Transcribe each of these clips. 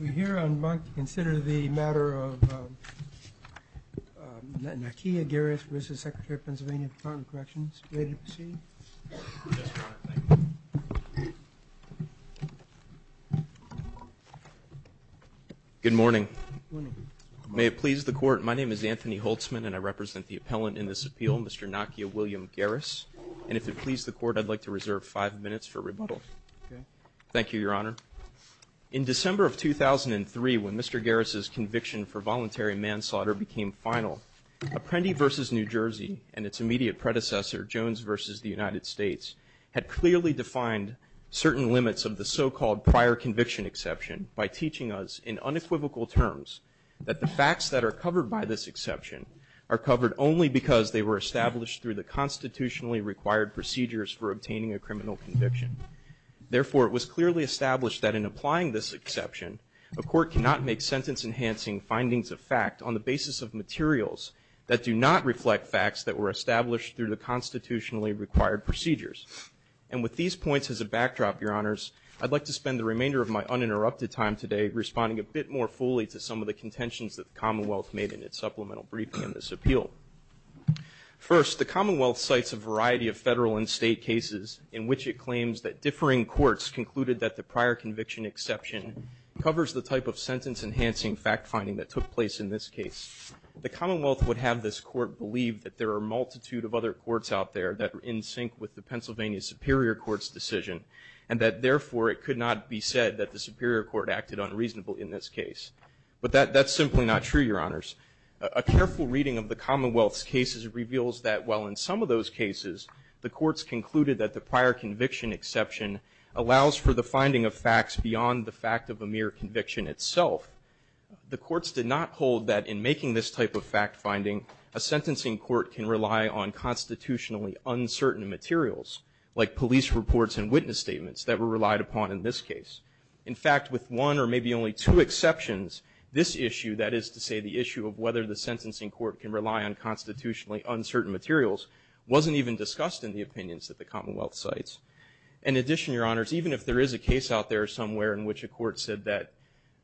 We're here on Banc to consider the matter of Nakia Garris v. Sect Pa Depto Corrections En Banc. May we proceed? Yes, Your Honor. Thank you. Good morning. Good morning. May it please the Court, my name is Anthony Holtzman and I represent the appellant in this appeal, Mr. Nakia William Garris. And if it please the Court, I'd like to reserve five minutes for rebuttal. Okay. Thank you, Your Honor. In December of 2003, when Mr. Garris' conviction for voluntary manslaughter became final, Apprendi v. New Jersey and its immediate predecessor, Jones v. The United States, had clearly defined certain limits of the so-called prior conviction exception by teaching us in unequivocal terms that the facts that are covered by this exception are covered only because they were established through the constitutionally required procedures for obtaining a criminal conviction. Therefore, it was clearly established that in applying this exception, a court cannot make sentence-enhancing findings of fact on the basis of materials that do not reflect facts that were established through the constitutionally required procedures. And with these points as a backdrop, Your Honors, I'd like to spend the remainder of my uninterrupted time today responding a bit more fully to some of the contentions that the Commonwealth made in its supplemental briefing in this appeal. First, the Commonwealth cites a variety of federal and state cases in which it claims that differing courts concluded that the prior conviction exception covers the type of sentence-enhancing fact-finding that took place in this case. The Commonwealth would have this court believe that there are a multitude of other courts out there that are in sync with the Pennsylvania Superior Court's decision, and that, therefore, it could not be said that the Superior Court acted unreasonably in this case. But that's simply not true, Your Honors. A careful reading of the Commonwealth's cases reveals that, while in some of those cases, the courts concluded that the prior conviction exception allows for the finding of facts beyond the fact of a mere conviction itself, the courts did not hold that in making this type of fact-finding, a sentencing court can rely on constitutionally uncertain materials, like police reports and witness statements, that were relied upon in this case. In fact, with one or maybe only two exceptions, this issue, that is to say the issue of whether the sentencing court can rely on constitutionally uncertain materials, wasn't even discussed in the opinions that the Commonwealth cites. In addition, Your Honors, even if there is a case out there somewhere in which a court said that,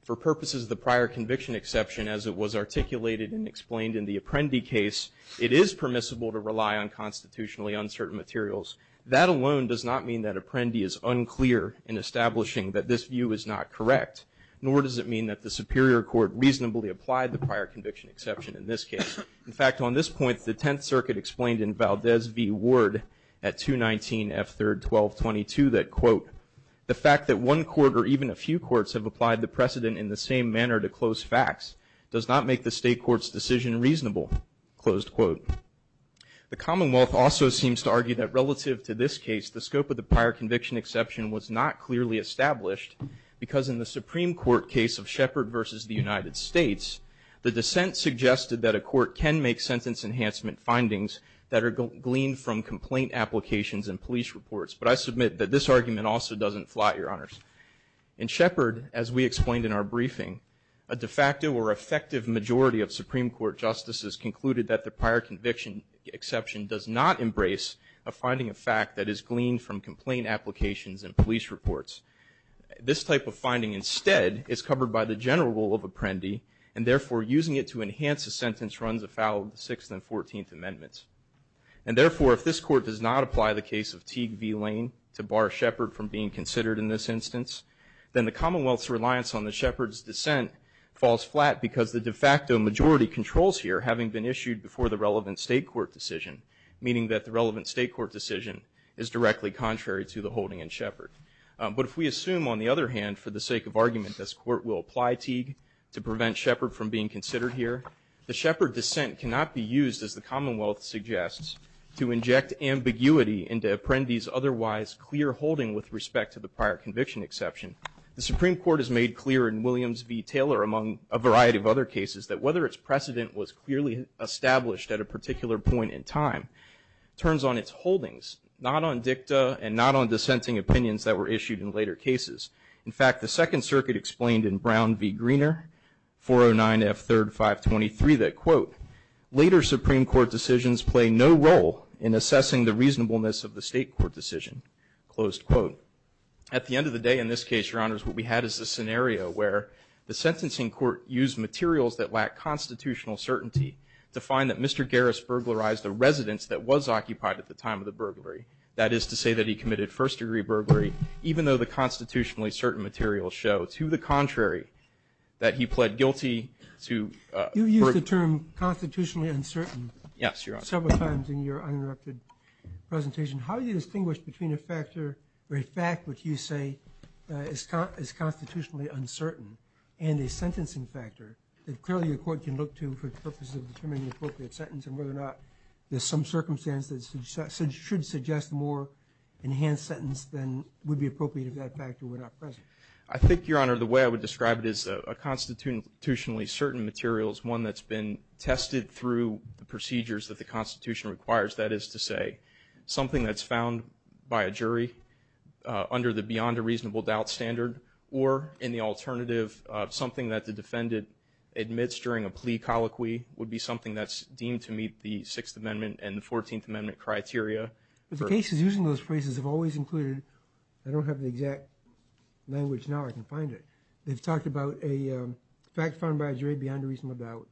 for purposes of the prior conviction exception, as it was articulated and explained in the Apprendi case, it is permissible to rely on constitutionally uncertain materials, that alone does not mean that Apprendi is unclear in establishing that this view is not correct, nor does it mean that the Superior Court reasonably applied the prior conviction exception in this case. In fact, on this point, the Tenth Circuit explained in Valdez v. Ward at 219 F. 3rd 1222 that, quote, the fact that one court or even a few courts have applied the precedent in the same manner to close facts does not make the state court's decision reasonable, closed quote. The Commonwealth also seems to argue that, relative to this case, the scope of the prior conviction exception was not clearly established because in the Supreme Court case of Shepard v. The United States, the dissent suggested that a court can make sentence enhancement findings that are gleaned from complaint applications and police reports. But I submit that this argument also doesn't fly, Your Honors. In Shepard, as we explained in our briefing, a de facto or effective majority of Supreme Court justices concluded that the prior conviction exception does not embrace a finding of fact that is gleaned from complaint applications and police reports. This type of finding instead is covered by the general rule of Apprendi, and therefore using it to enhance a sentence runs afoul of the Sixth and Fourteenth Amendments. And therefore, if this court does not apply the case of Teague v. Lane to bar Shepard from being considered in this instance, then the Commonwealth's reliance on the Shepard's dissent falls flat because the de facto majority controls here having been issued before the relevant state court decision, meaning that the relevant state court decision is directly contrary to the holding in Shepard. But if we assume, on the other hand, for the sake of argument, this court will apply Teague to prevent Shepard from being considered here, the Shepard dissent cannot be used, as the Commonwealth suggests, to inject ambiguity into Apprendi's otherwise clear holding with respect to the prior conviction exception. The Supreme Court has made clear in Williams v. Taylor, among a variety of other cases, that whether its precedent was clearly established at a particular point in time turns on its holdings, not on dicta and not on dissenting opinions that were issued in later cases. In fact, the Second Circuit explained in Brown v. Greener, 409 F. 3rd, 523, that, quote, later Supreme Court decisions play no role in assessing the reasonableness of the state court decision. Closed quote. At the end of the day, in this case, Your Honors, what we had is a scenario where the sentencing court used materials that lack constitutional certainty to find that Mr. Garris burglarized a residence that was occupied at the time of the burglary. That is to say that he committed first degree burglary, even though the constitutionally certain materials show, to the contrary, that he pled guilty to burglary. You used the term constitutionally uncertain. Yes, Your Honor. Several times in your uninterrupted presentation. How do you distinguish between a factor or a fact which you say is constitutionally uncertain and a sentencing factor that clearly a court can look to for the purpose of determining an appropriate sentence and whether or not there's some circumstance that should suggest a more enhanced sentence than would be appropriate if that factor were not present? I think, Your Honor, the way I would describe it is a constitutionally certain material is one that's been tested through the procedures that the Constitution requires. That is to say, something that's found by a jury under the beyond a reasonable doubt standard or, in the alternative, something that the defendant admits during a plea colloquy would be something that's deemed to meet the Sixth Amendment and the Fourteenth Amendment criteria. The cases using those phrases have always included, I don't have the exact language now. I can find it. They've talked about a fact found by a jury beyond a reasonable doubt,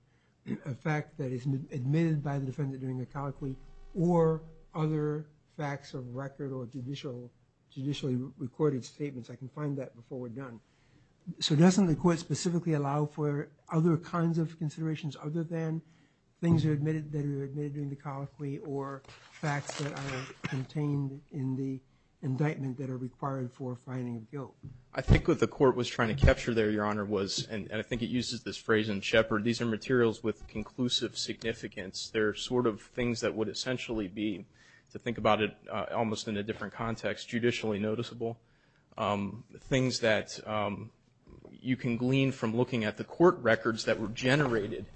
a fact that is admitted by the defendant during a colloquy or other facts of record or judicially recorded statements. I can find that before we're done. So doesn't the court specifically allow for other kinds of considerations other than things that are admitted during the colloquy or facts that are contained in the indictment that are required for finding of guilt? I think what the court was trying to capture there, Your Honor, and I think it uses this phrase in Shepard, these are materials with conclusive significance. They're sort of things that would essentially be, to think about it almost in a different context, judicially noticeable, things that you can glean from looking at the court records that were generated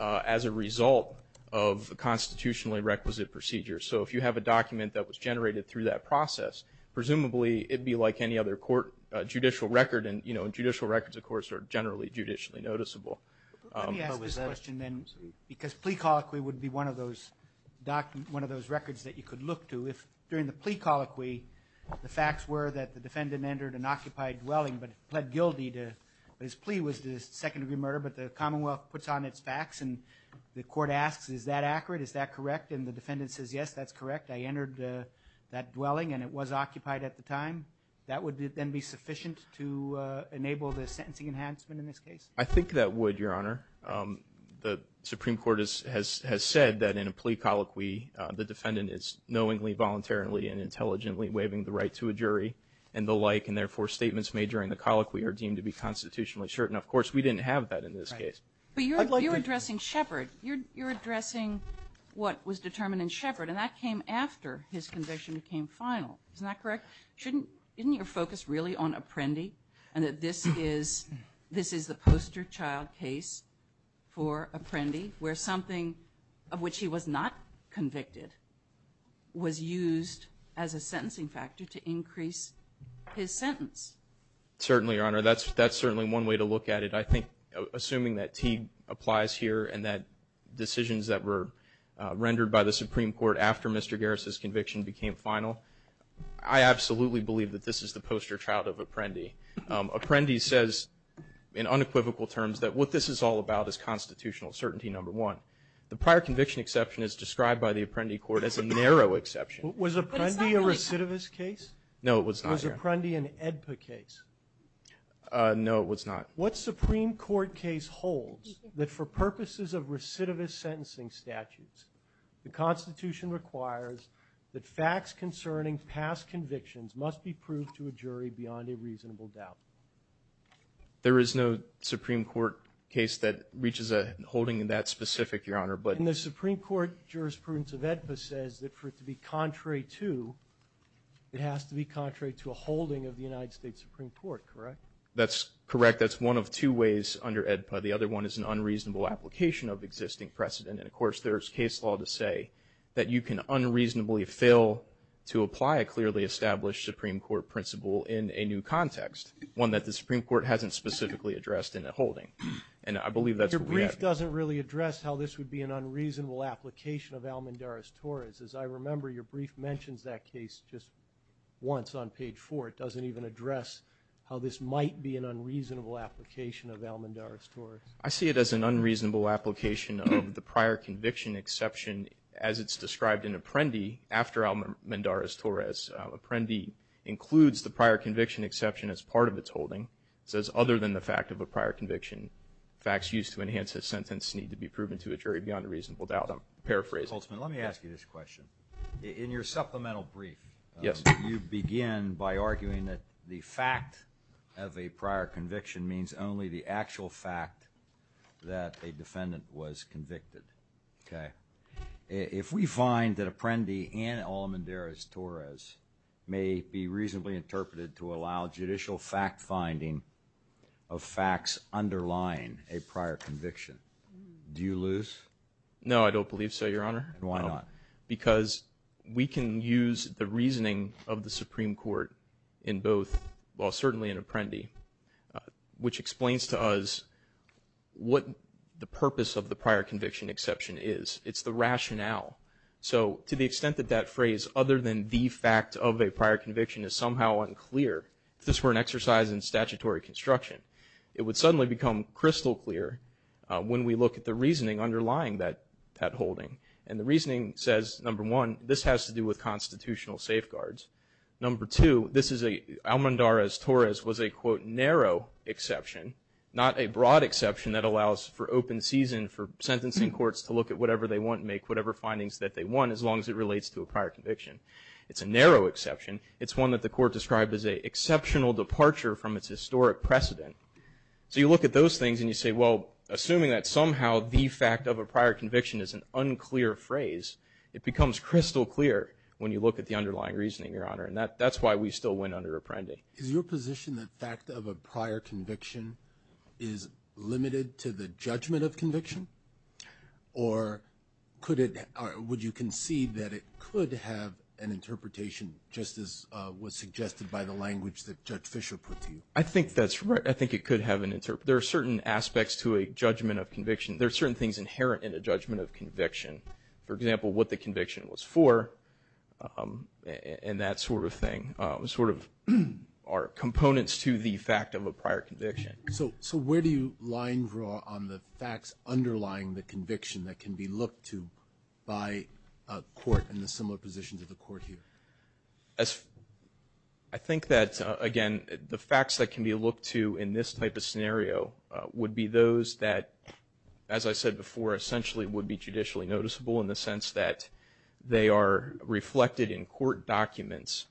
as a result of a constitutionally requisite procedure. So if you have a document that was generated through that process, presumably it would be like any other court judicial record. And, you know, judicial records, of course, are generally judicially noticeable. Let me ask this question then, because plea colloquy would be one of those records that you could look to if, during the plea colloquy, the facts were that the defendant entered an occupied dwelling but pled guilty to his plea was a second-degree murder, but the Commonwealth puts on its facts and the court asks, is that accurate, is that correct? And the defendant says, yes, that's correct. I entered that dwelling and it was occupied at the time. That would then be sufficient to enable the sentencing enhancement in this case? I think that would, Your Honor. The Supreme Court has said that in a plea colloquy the defendant is knowingly, voluntarily, and intelligently waiving the right to a jury and the like, and therefore statements made during the colloquy are deemed to be constitutionally certain. Of course, we didn't have that in this case. But you're addressing Shepard. You're addressing what was determined in Shepard, and that came after his conviction became final. Isn't that correct? Isn't your focus really on Apprendi and that this is the poster child case for Apprendi where something of which he was not convicted was used as a sentencing factor to increase his sentence? Certainly, Your Honor. That's certainly one way to look at it. I think, assuming that T applies here and that decisions that were rendered by the Supreme Court after Mr. Garris' conviction became final, I absolutely believe that this is the poster child of Apprendi. Apprendi says, in unequivocal terms, that what this is all about is constitutional certainty, number one. The prior conviction exception is described by the Apprendi court as a narrow exception. Was Apprendi a recidivist case? No, it was not, Your Honor. Was Apprendi an AEDPA case? No, it was not. What Supreme Court case holds that for purposes of recidivist sentencing statutes, the Constitution requires that facts concerning past convictions must be proved to a jury beyond a reasonable doubt. There is no Supreme Court case that reaches a holding in that specific, Your Honor. And the Supreme Court jurisprudence of AEDPA says that for it to be contrary to, it has to be contrary to a holding of the United States Supreme Court, correct? That's correct. That's one of two ways under AEDPA. The other one is an unreasonable application of existing precedent. And, of course, there's case law to say that you can unreasonably fail to apply a clearly established Supreme Court principle in a new context, one that the Supreme Court hasn't specifically addressed in a holding. And I believe that's what we have here. Your brief doesn't really address how this would be an unreasonable application of Almendarez-Torres. As I remember, your brief mentions that case just once on page four. It doesn't even address how this might be an unreasonable application of Almendarez-Torres. I see it as an unreasonable application of the prior conviction exception, as it's described in Apprendi, after Almendarez-Torres. Apprendi includes the prior conviction exception as part of its holding. It says, other than the fact of a prior conviction, facts used to enhance a sentence need to be proven to a jury beyond a reasonable doubt. I'm paraphrasing. Coltsman, let me ask you this question. In your supplemental brief, you begin by arguing that the fact of a prior conviction means only the actual fact that a defendant was convicted. Okay. If we find that Apprendi and Almendarez-Torres may be reasonably interpreted to allow judicial fact-finding of facts underlying a prior conviction, do you lose? No, I don't believe so, Your Honor. And why not? Because we can use the reasoning of the Supreme Court in both, well certainly in Apprendi, which explains to us what the purpose of the prior conviction exception is. It's the rationale. So to the extent that that phrase, other than the fact of a prior conviction, is somehow unclear, if this were an exercise in statutory construction, it would suddenly become crystal clear when we look at the reasoning underlying that holding. And the reasoning says, number one, this has to do with constitutional safeguards. Number two, Almendarez-Torres was a, quote, narrow exception, not a broad exception that allows for open season, for sentencing courts to look at whatever they want and make whatever findings that they want, as long as it relates to a prior conviction. It's a narrow exception. It's one that the court described as an exceptional departure from its historic precedent. So you look at those things and you say, well, assuming that somehow the fact of a prior conviction is an unclear phrase, it becomes crystal clear when you look at the underlying reasoning. And that's why we still win under Apprendi. Is your position that the fact of a prior conviction is limited to the judgment of conviction? Or would you concede that it could have an interpretation, just as was suggested by the language that Judge Fischer put to you? I think that's right. I think it could have an interpretation. There are certain aspects to a judgment of conviction. There are certain things inherent in a judgment of conviction. For example, what the conviction was for. And that sort of thing. Sort of are components to the fact of a prior conviction. So where do you line draw on the facts underlying the conviction that can be looked to by a court in a similar position to the court here? I think that, again, the facts that can be looked to in this type of scenario would be those that, as I said before, essentially would be judicially noticeable in the sense that they are reflected in court documents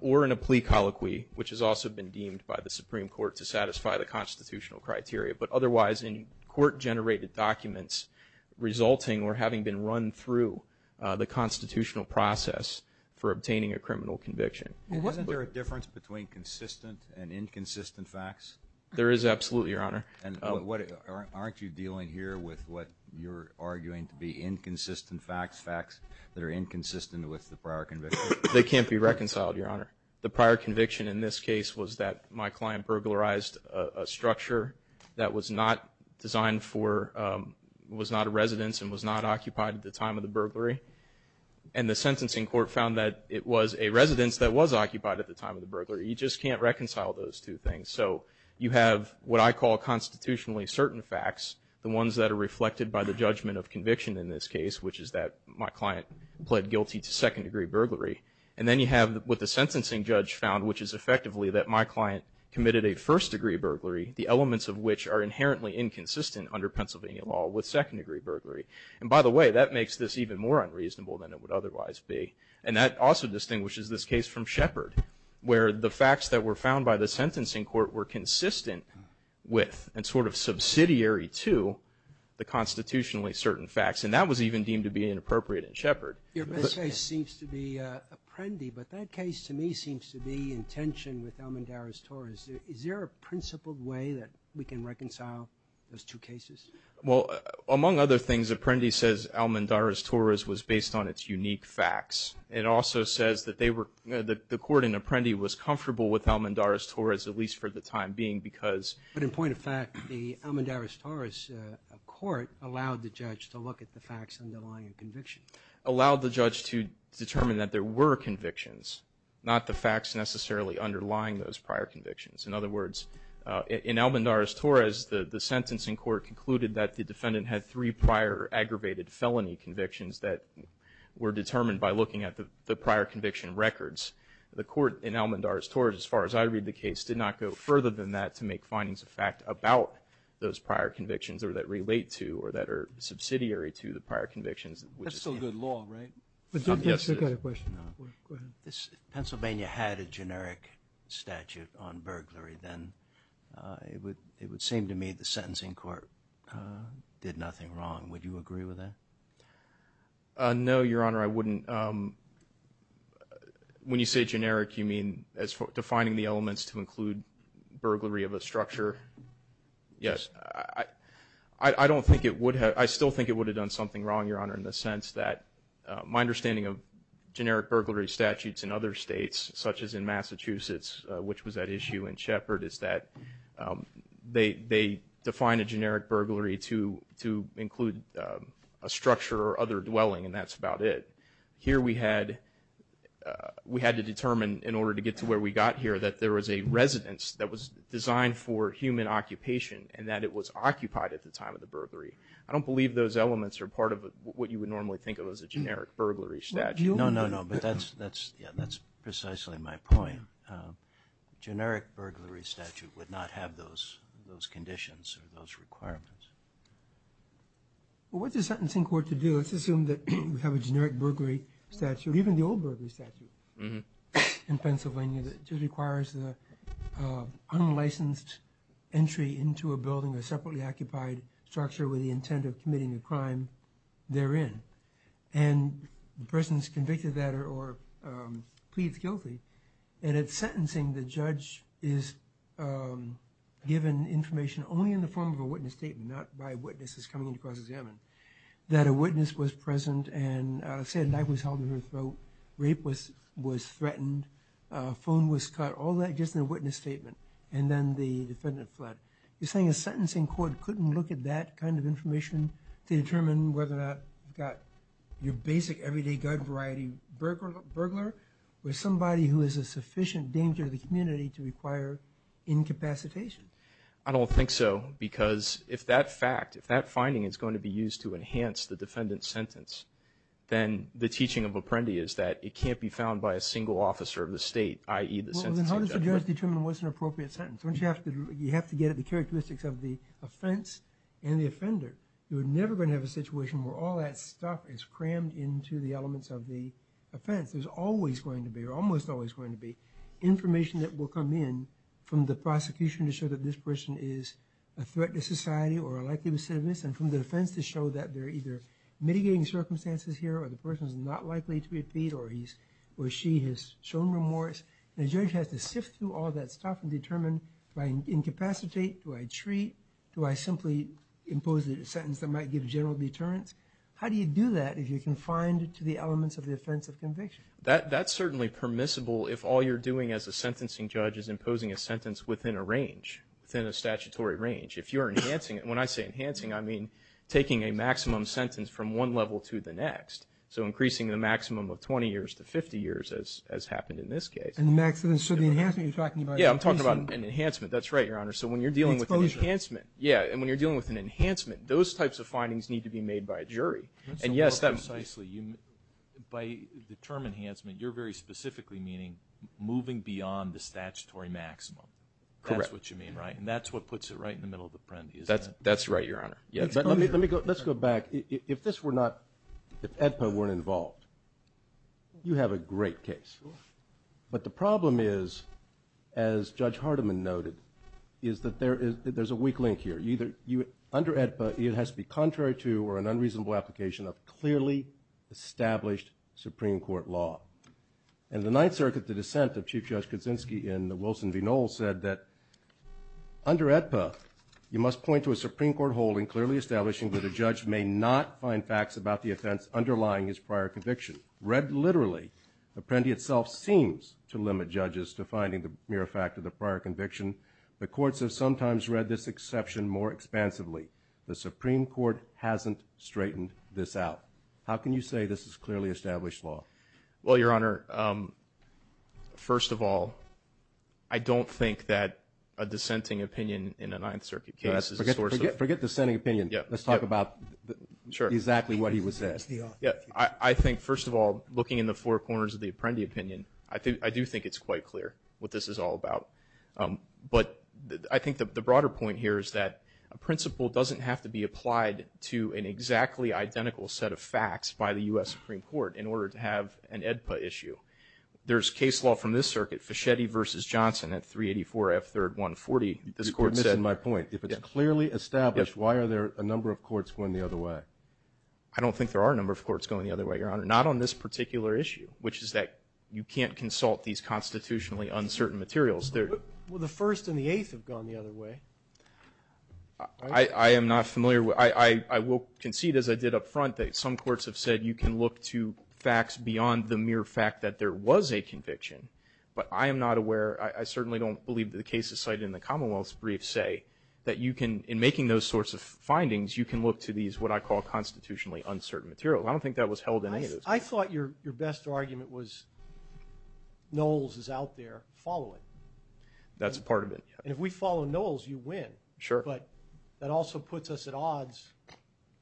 or in a plea colloquy, which has also been deemed by the Supreme Court to satisfy the constitutional criteria. But otherwise, in court-generated documents resulting or having been run through the constitutional process for obtaining a criminal conviction. There is absolutely, Your Honor. Aren't you dealing here with what you're arguing to be inconsistent facts, facts that are inconsistent with the prior conviction? They can't be reconciled, Your Honor. The prior conviction in this case was that my client burglarized a structure that was not designed for, was not a residence and was not occupied at the time of the burglary. And the sentencing court found that it was a residence that was occupied at the time of the burglary. You just can't reconcile those two things. So you have what I call constitutionally certain facts, the ones that are reflected by the judgment of conviction in this case, which is that my client pled guilty to second-degree burglary. And then you have what the sentencing judge found, which is effectively that my client committed a first-degree burglary, the elements of which are inherently inconsistent under Pennsylvania law with second-degree burglary. And by the way, that makes this even more unreasonable than it would otherwise be. And that also distinguishes this case from Shepard, where the facts that were found by the sentencing court were consistent with and sort of subsidiary to the constitutionally certain facts. And that was even deemed to be inappropriate in Shepard. Your best case seems to be Apprendi, but that case to me seems to be in tension with Almendariz-Torres. Is there a principled way that we can reconcile those two cases? Well, among other things, Apprendi says Almendariz-Torres was based on its unique facts. It also says that they were the court in Apprendi was comfortable with Almendariz-Torres, at least for the time being, because. But in point of fact, the Almendariz-Torres court allowed the judge to look at the facts underlying a conviction. Allowed the judge to determine that there were convictions, not the facts necessarily underlying those prior convictions. In other words, in Almendariz-Torres, the sentencing court concluded that the defendant had three prior aggravated felony convictions that were determined by looking at the prior conviction records. The court in Almendariz-Torres, as far as I read the case, did not go further than that to make findings of fact about those prior convictions or that relate to or that are subsidiary to the prior convictions. That's still good law, right? Yes, it is. If Pennsylvania had a generic statute on burglary, then it would seem to me the sentencing court did nothing wrong. Would you agree with that? No, Your Honor, I wouldn't. When you say generic, you mean defining the elements to include burglary of a structure? Yes. I still think it would have done something wrong, Your Honor, in the sense that my understanding of generic burglary statutes in other states, such as in Massachusetts, which was at issue, is that they define a generic burglary to include a structure or other dwelling, and that's about it. Here we had to determine, in order to get to where we got here, that there was a residence that was designed for human occupation and that it was occupied at the time of the burglary. I don't believe those elements are part of what you would normally think of as a generic burglary statute. No, no, no, but that's precisely my point. A generic burglary statute would not have those conditions or those requirements. Well, what's a sentencing court to do? Let's assume that we have a generic burglary statute, even the old burglary statute in Pennsylvania, that just requires the unlicensed entry into a building, a separately occupied structure with the intent of committing a crime therein. And the person is convicted of that or pleads guilty, and at sentencing, the judge is given information only in the form of a witness statement, not by witnesses coming in to cross-examine, that a witness was present and said life was held in her throat, rape was threatened, phone was cut, all that just in a witness statement, and then the defendant fled. You're saying a sentencing court couldn't look at that kind of information to determine whether or not you've got your basic, everyday, gut-variety burglar or somebody who is a sufficient danger to the community to require incapacitation? I don't think so, because if that fact, if that finding is going to be used to enhance the defendant's sentence, then the teaching of Apprendi is that it can't be found by a single officer of the state, i.e., the sentencing judge. Well, then how does the judge determine what's an appropriate sentence? You have to get at the characteristics of the offense and the offender. You're never going to have a situation where all that stuff is crammed into the elements of the offense. There's always going to be, or almost always going to be, information that will come in from the prosecution to show that this person is a threat to society or a likely recidivist, and from the defense to show that they're either mitigating circumstances here or the person's not likely to be appeased or she has shown remorse. The judge has to sift through all that stuff and determine, do I incapacitate, do I treat, do I simply impose a sentence that might give general deterrence? How do you do that if you're confined to the elements of the offense of conviction? That's certainly permissible if all you're doing as a sentencing judge is imposing a sentence within a range, within a statutory range. If you're enhancing it, and when I say enhancing, I mean taking a maximum sentence from one level to the next, so increasing the maximum of 20 years to 50 years, as happened in this case. So the enhancement you're talking about is increasing. Yeah, I'm talking about an enhancement. That's right, Your Honor. So when you're dealing with an enhancement, yeah, and when you're dealing with an enhancement, those types of findings need to be made by a jury. And yes, precisely, by the term enhancement, you're very specifically meaning moving beyond the statutory maximum. Correct. That's what you mean, right? And that's what puts it right in the middle of the prende, isn't it? That's right, Your Honor. Let's go back. If this were not, if AEDPA weren't involved, you have a great case. But the problem is, as Judge Hardiman noted, is that there's a weak link here. Under AEDPA, it has to be contrary to or an unreasonable application of clearly established Supreme Court law. In the Ninth Circuit, the dissent of Chief Judge Kuczynski in the Wilson v. Knoll said that under AEDPA, you must point to a Supreme Court holding clearly establishing that a judge may not find facts about the offense underlying his prior conviction. Read literally, the prende itself seems to limit judges to finding the mere fact of the prior conviction. The courts have sometimes read this exception more expansively. The Supreme Court hasn't straightened this out. How can you say this is clearly established law? Well, Your Honor, first of all, I don't think that a dissenting opinion in a Ninth Circuit case is a source of… Forget dissenting opinion. Let's talk about exactly what he was saying. I think, first of all, looking in the four corners of the prende opinion, I do think it's quite clear what this is all about. But I think the broader point here is that a principle doesn't have to be applied to an exactly identical set of facts by the U.S. Supreme Court in order to have an AEDPA issue. There's case law from this circuit, Fischetti v. Johnson at 384 F. 3rd 140. You're missing my point. If it's clearly established, why are there a number of courts going the other way? I don't think there are a number of courts going the other way, Your Honor, not on this particular issue, which is that you can't consult these constitutionally uncertain materials. Well, the First and the Eighth have gone the other way. I am not familiar. I will concede, as I did up front, that some courts have said you can look to facts beyond the mere fact that there was a conviction. But I am not aware. I certainly don't believe that the cases cited in the Commonwealth's brief say that you can, in making those sorts of findings, you can look to these what I call constitutionally uncertain materials. I don't think that was held in any of those cases. I thought your best argument was Knowles is out there. Follow it. That's part of it, yes. And if we follow Knowles, you win. Sure. But that also puts us at odds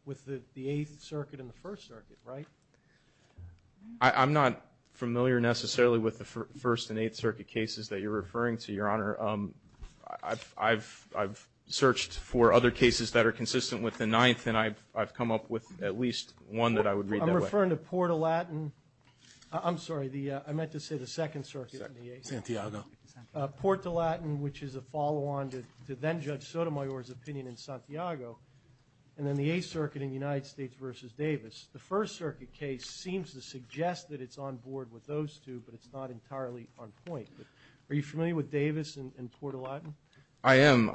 with the Eighth Circuit and the First Circuit, right? I'm not familiar necessarily with the First and Eighth Circuit cases that you're referring to, Your Honor. I've searched for other cases that are consistent with the Ninth, and I've come up with at least one that I would read that way. I'm referring to Port-a-Latin. I'm sorry, I meant to say the Second Circuit and the Eighth. Santiago. Port-a-Latin, which is a follow-on to then-Judge Sotomayor's opinion in Santiago, and then the Eighth Circuit in the United States versus Davis. The First Circuit case seems to suggest that it's on board with those two, but it's not entirely on point. Are you familiar with Davis and Port-a-Latin? I am.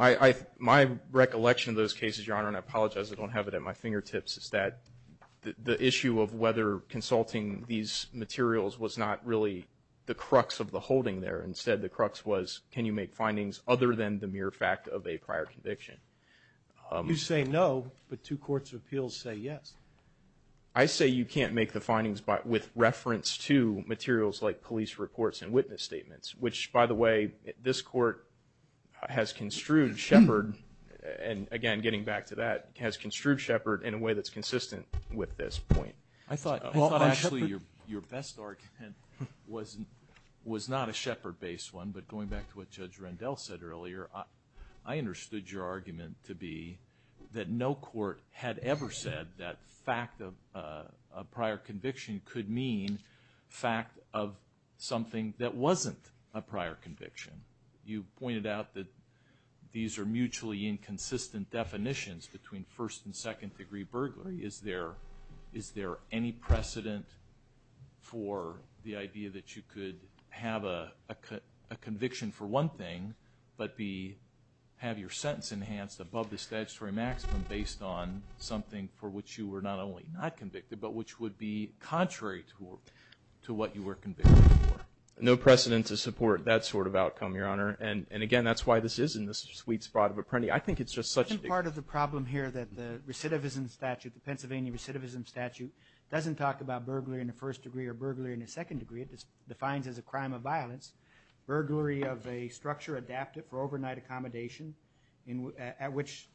My recollection of those cases, Your Honor, and I apologize I don't have it at my fingertips, is that the issue of whether consulting these materials was not really the crux of the holding there. Instead, the crux was can you make findings other than the mere fact of a prior conviction? You say no, but two courts of appeals say yes. I say you can't make the findings with reference to materials like police reports and witness statements, which, by the way, this Court has construed Shepard, and again, getting back to that, has construed Shepard in a way that's consistent with this point. I thought actually your best argument was not a Shepard-based one, but going back to what Judge Rendell said earlier, I understood your argument to be that no court had ever said that fact of a prior conviction could mean fact of something that wasn't a prior conviction. You pointed out that these are mutually inconsistent definitions between first and second degree burglary. Is there any precedent for the idea that you could have a conviction for one thing, but have your sentence enhanced above the statutory maximum based on something for which you were not only not convicted, but which would be contrary to what you were convicted for? No precedent to support that sort of outcome, Your Honor, and again, that's why this is in the sweet spot of Apprendi. I think it's just such a big problem here that the recidivism statute, the Pennsylvania recidivism statute, doesn't talk about burglary in the first degree or burglary in the second degree. It defines as a crime of violence, burglary of a structure adapted for overnight accommodation at which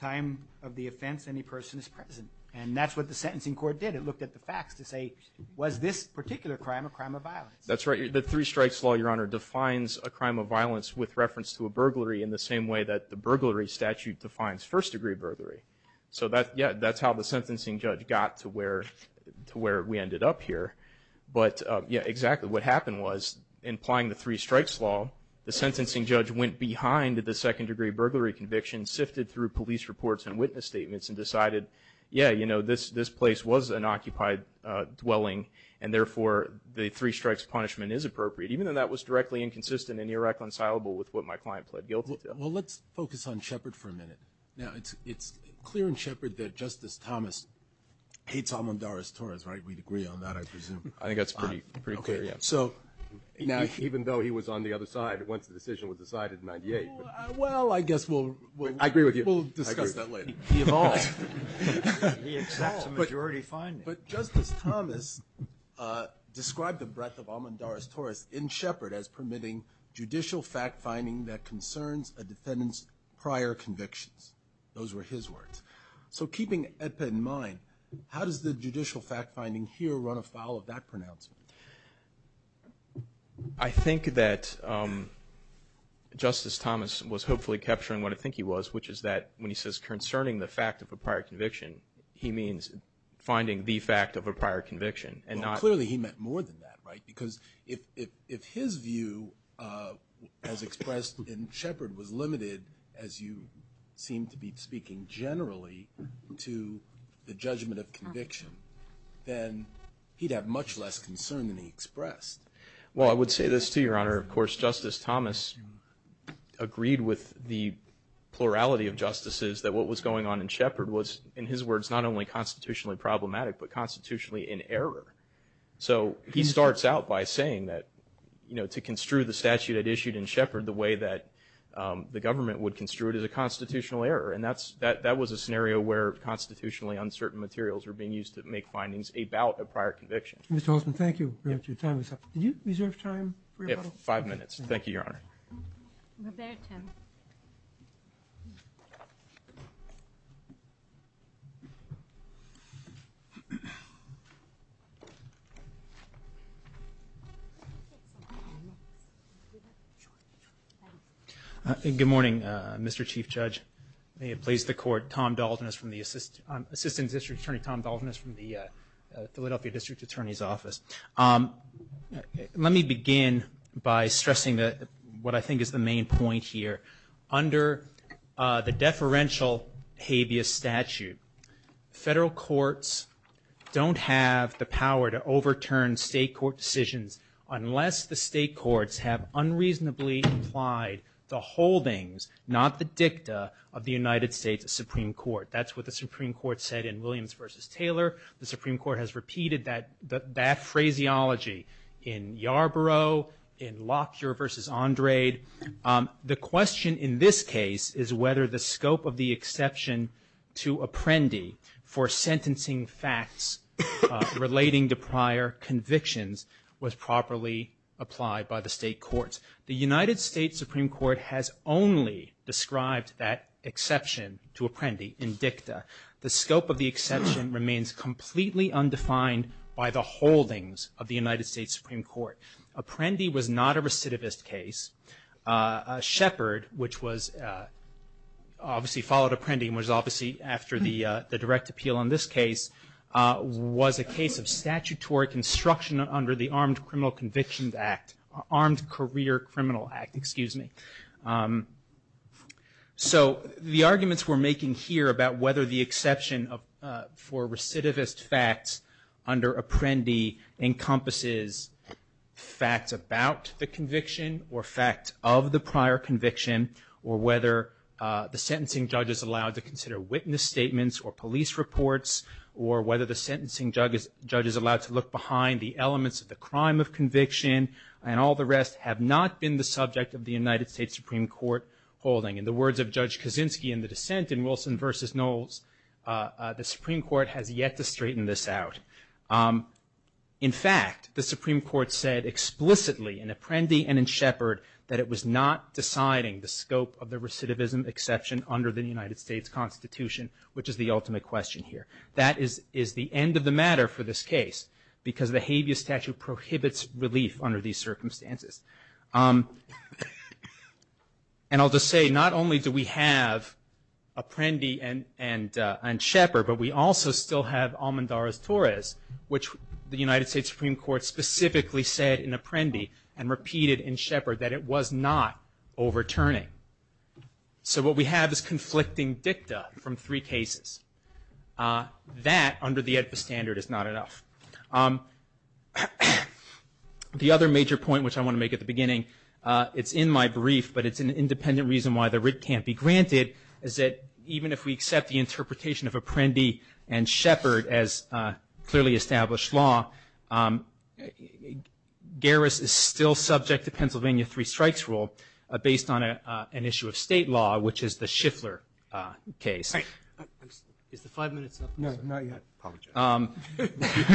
time of the offense any person is present, and that's what the sentencing court did. It looked at the facts to say, was this particular crime a crime of violence? That's right. The three strikes law, Your Honor, defines a crime of violence with reference to a burglary in the same way that the burglary statute defines first degree burglary. So, yeah, that's how the sentencing judge got to where we ended up here. But, yeah, exactly what happened was in applying the three strikes law, the sentencing judge went behind the second degree burglary conviction, sifted through police reports and witness statements, and decided, yeah, you know, this place was an occupied dwelling and, therefore, the three strikes punishment is appropriate, even though that was directly inconsistent and irreconcilable with what my client pled guilty to. Well, let's focus on Shepard for a minute. Now, it's clear in Shepard that Justice Thomas hates Almondaris Torres, right? We'd agree on that, I presume. I think that's pretty clear, yeah. Okay, so. Now, even though he was on the other side once the decision was decided in 98. Well, I guess we'll. I agree with you. We'll discuss that later. He evolved. He evolved. He accepts a majority finding. But, Justice Thomas described the breadth of Almondaris Torres in Shepard as permitting judicial fact finding that concerns a defendant's prior convictions. Those were his words. So, keeping that in mind, how does the judicial fact finding here run afoul of that pronouncement? I think that Justice Thomas was hopefully capturing what I think he was, which is that when he says concerning the fact of a prior conviction, he means finding the fact of a prior conviction. Well, clearly he meant more than that, right? Because if his view as expressed in Shepard was limited, as you seem to be speaking generally, to the judgment of conviction, then he'd have much less concern than he expressed. Well, I would say this too, Your Honor. Where, of course, Justice Thomas agreed with the plurality of justices, that what was going on in Shepard was, in his words, not only constitutionally problematic, but constitutionally in error. So, he starts out by saying that, you know, to construe the statute I'd issued in Shepard the way that the government would construe it as a constitutional error. And that was a scenario where constitutionally uncertain materials were being used to make findings about a prior conviction. Mr. Holtzman, thank you for your time. Did you reserve time for your question? Five minutes. Thank you, Your Honor. Good morning, Mr. Chief Judge. May it please the Court, Tom Dalton is from the, Assistant District Attorney Tom Dalton is from the Philadelphia District Attorney's Office. Let me begin by stressing what I think is the main point here. Under the deferential habeas statute, federal courts don't have the power to overturn state court decisions unless the state courts have unreasonably implied the holdings, not the dicta, of the United States Supreme Court. That's what the Supreme Court said in Williams v. Taylor. The Supreme Court has repeated that phraseology in Yarborough, in Lockyer v. Andrade. The question in this case is whether the scope of the exception to apprendi for sentencing facts relating to prior convictions was properly applied by the state courts. The United States Supreme Court has only described that exception to apprendi in dicta. The scope of the exception remains completely undefined by the holdings of the United States Supreme Court. Apprendi was not a recidivist case. Shepard, which was obviously followed apprendi and was obviously after the direct appeal on this case, was a case of statutory construction under the Armed Criminal Convictions Act, Armed Career Criminal Act, excuse me. So the arguments we're making here about whether the exception for recidivist facts under apprendi encompasses facts about the conviction or facts of the prior conviction or whether the sentencing judge is allowed to consider witness statements or police reports or whether the sentencing judge is allowed to look behind the elements of the crime of conviction and all the rest have not been the subject of the United States Supreme Court holding. In the words of Judge Kaczynski in the dissent in Wilson v. Knowles, the Supreme Court has yet to straighten this out. In fact, the Supreme Court said explicitly in apprendi and in Shepard that it was not deciding the scope of the recidivism exception under the United States Constitution, which is the ultimate question here. That is the end of the matter for this case because the habeas statute prohibits relief under these circumstances. And I'll just say not only do we have apprendi and Shepard, but we also still have Almendarez-Torres, which the United States Supreme Court specifically said in apprendi and repeated in Shepard that it was not overturning. So what we have is conflicting dicta from three cases. That, under the EDPA standard, is not enough. The other major point, which I want to make at the beginning, it's in my brief, but it's an independent reason why the writ can't be granted, is that even if we accept the interpretation of apprendi and Shepard as clearly established law, Garris is still subject to Pennsylvania three strikes rule based on an issue of state law, which is the Schiffler case. Is the five minutes up? No, not yet. I apologize.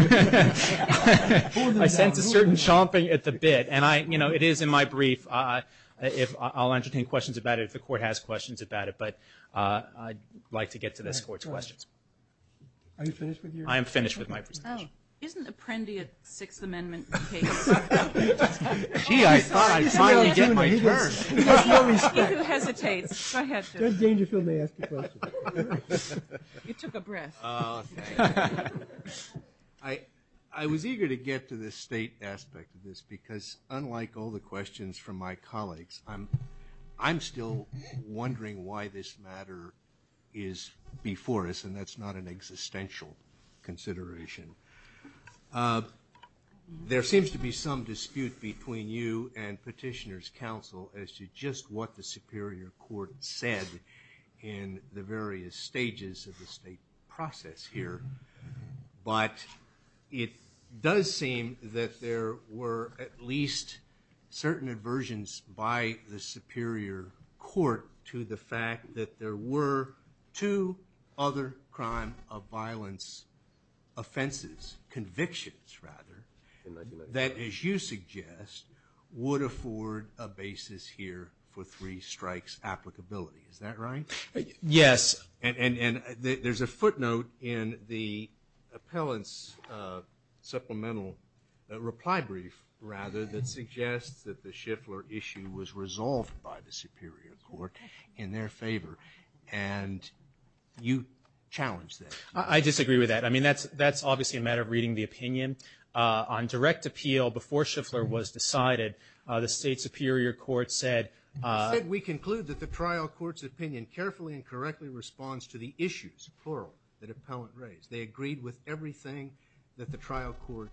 I sense a certain chomping at the bit. And it is in my brief. I'll entertain questions about it if the court has questions about it. But I'd like to get to this court's questions. Are you finished with yours? I am finished with my presentation. Isn't apprendi a Sixth Amendment case? Gee, I thought I'd finally get my turn. If you hesitate, go ahead. Judge Dangerfield may ask a question. You took a breath. I was eager to get to the state aspect of this, because unlike all the questions from my colleagues, I'm still wondering why this matter is before us, and that's not an existential consideration. There seems to be some dispute between you and Petitioner's counsel as to just what the Superior Court said in the various stages of the state process here. But it does seem that there were at least certain aversions by the Superior Court to the fact that there were two other crime of violence offenses, convictions, rather, that, as you suggest, would afford a basis here for three strikes applicability. Is that right? Yes. And there's a footnote in the appellant's supplemental reply brief, rather, that suggests that the Schiffler issue was resolved by the Superior Court in their favor. And you challenged that. I disagree with that. I mean, that's obviously a matter of reading the opinion. On direct appeal, before Schiffler was decided, the State Superior Court said we conclude that the trial court's opinion carefully and correctly responds to the issues, plural, that appellant raised. They agreed with everything that the trial court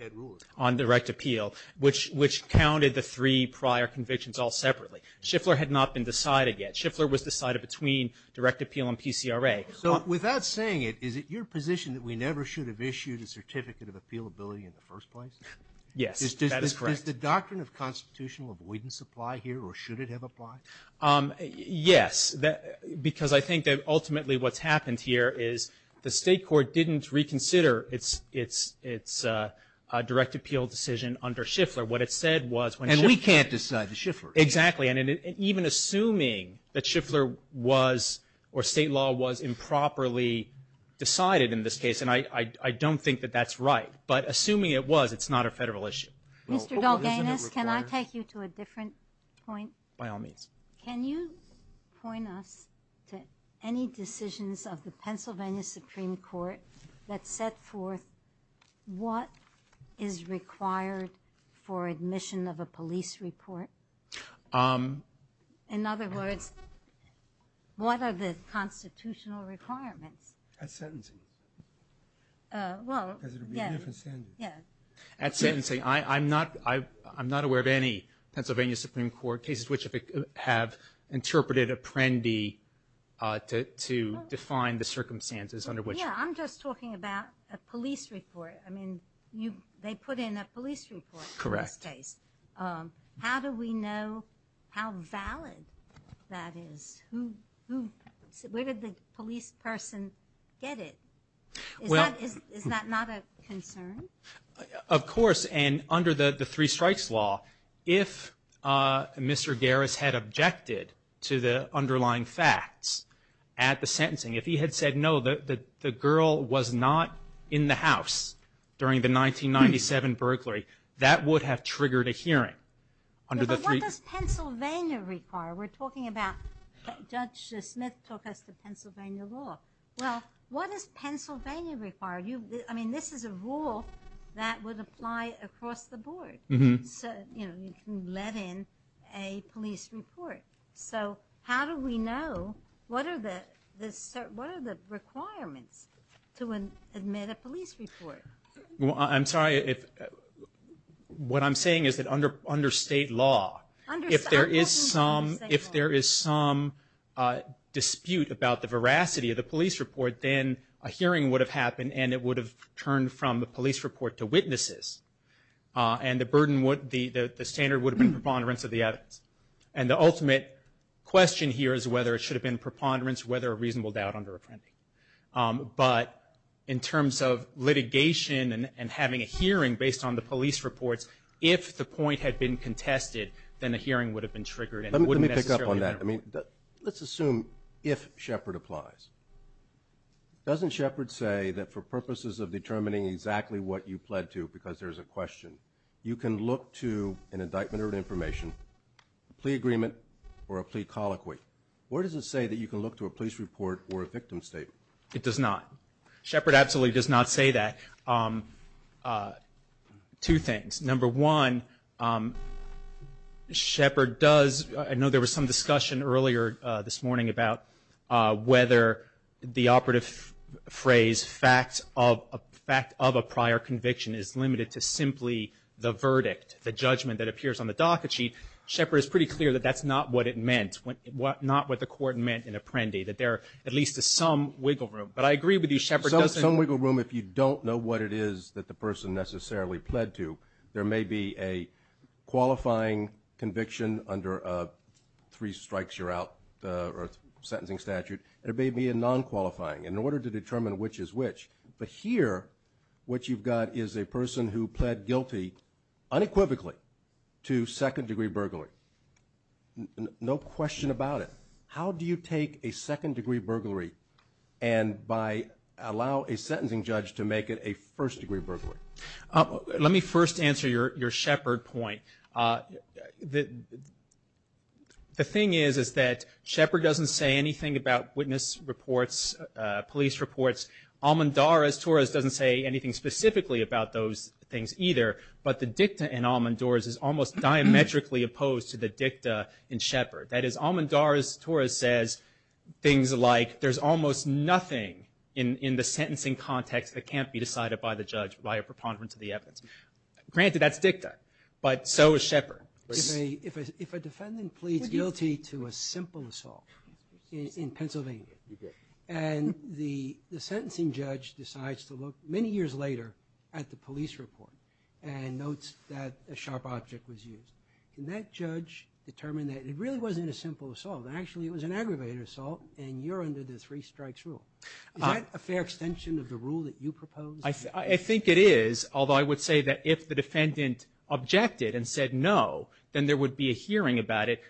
had ruled on direct appeal, which counted the three prior convictions all separately. Schiffler had not been decided yet. Schiffler was decided between direct appeal and PCRA. So without saying it, is it your position that we never should have issued a certificate of appealability in the first place? Yes, that is correct. Does the doctrine of constitutional avoidance apply here, or should it have applied? Yes, because I think that ultimately what's happened here is the State Court didn't reconsider its direct appeal decision under Schiffler. What it said was when Schiffler And we can't decide the Schiffler. Exactly. And even assuming that Schiffler was, or state law was improperly decided in this case, and I don't think that that's right, but assuming it was, it's not a federal issue. Mr. Dalganis, can I take you to a different point? By all means. Can you point us to any decisions of the Pennsylvania Supreme Court that set forth what is required for admission of a police report? In other words, what are the constitutional requirements? At sentencing. Well, yes. Because it would be a different standard. Yes. At sentencing. I'm not aware of any Pennsylvania Supreme Court cases which have interpreted Apprendi to define the circumstances under which. Yes, I'm just talking about a police report. I mean, they put in a police report in this case. Correct. How do we know how valid that is? Where did the police person get it? Is that not a concern? Of course. And under the three strikes law, if Mr. Garris had objected to the underlying facts at the sentencing, if he had said no, the girl was not in the house during the 1997 burglary, that would have triggered a hearing. But what does Pennsylvania require? We're talking about Judge Smith took us to Pennsylvania law. Well, what does Pennsylvania require? I mean, this is a rule that would apply across the board. You can let in a police report. So how do we know what are the requirements to admit a police report? I'm sorry. What I'm saying is that under state law, if there is some dispute about the veracity of the police report, then a hearing would have happened, and it would have turned from the police report to witnesses. And the standard would have been preponderance of the evidence. And the ultimate question here is whether it should have been preponderance, whether a reasonable doubt under Apprendi. But in terms of litigation and having a hearing based on the police reports, if the point had been contested, then a hearing would have been triggered. Let me pick up on that. I mean, let's assume if Shepard applies, doesn't Shepard say that for purposes of determining exactly what you pled to because there's a question, you can look to an indictment or an information, a plea agreement, or a plea colloquy? Where does it say that you can look to a police report or a victim statement? It does not. Shepard absolutely does not say that. Two things. Number one, Shepard does. I know there was some discussion earlier this morning about whether the operative phrase fact of a prior conviction is limited to simply the verdict, the judgment that appears on the docket sheet. Shepard is pretty clear that that's not what it meant. That's not what the court meant in Apprendi, that there are at least some wiggle room. But I agree with you, Shepard doesn't. Some wiggle room if you don't know what it is that the person necessarily pled to. There may be a qualifying conviction under a three strikes you're out or a sentencing statute. There may be a non-qualifying. In order to determine which is which. But here what you've got is a person who pled guilty unequivocally to second degree burglary. No question about it. How do you take a second degree burglary and by allow a sentencing judge to make it a first degree burglary? Let me first answer your Shepard point. The thing is, is that Shepard doesn't say anything about witness reports, police reports. Almondoras, Torres doesn't say anything specifically about those things either. But the dicta in Almondoras is almost diametrically opposed to the dicta in Shepard. That is, Almondoras, Torres says things like there's almost nothing in the sentencing context that can't be decided by the judge by a preponderance of the evidence. Granted, that's dicta. But so is Shepard. If a defendant pleads guilty to a simple assault in Pennsylvania and the judge notes that a sharp object was used, can that judge determine that it really wasn't a simple assault and actually it was an aggravated assault and you're under the three strikes rule? Is that a fair extension of the rule that you propose? I think it is, although I would say that if the defendant objected and said no, then there would be a hearing about it.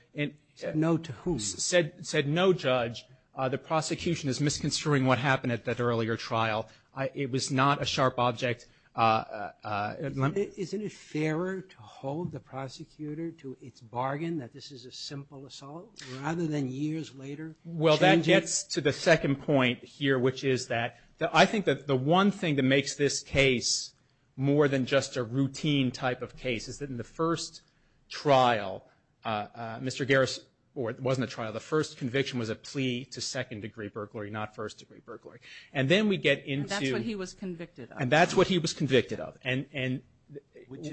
Said no to whom? Said no judge. The prosecution is misconstruing what happened at that earlier trial. It was not a sharp object. Isn't it fairer to hold the prosecutor to its bargain that this is a simple assault rather than years later change it? Well, that gets to the second point here, which is that I think that the one thing that makes this case more than just a routine type of case is that in the first trial, Mr. Garris or it wasn't a trial, the first conviction was a plea to second degree burglary, not first degree burglary. And then we get into... And that's what he was convicted of. And that's what he was convicted of.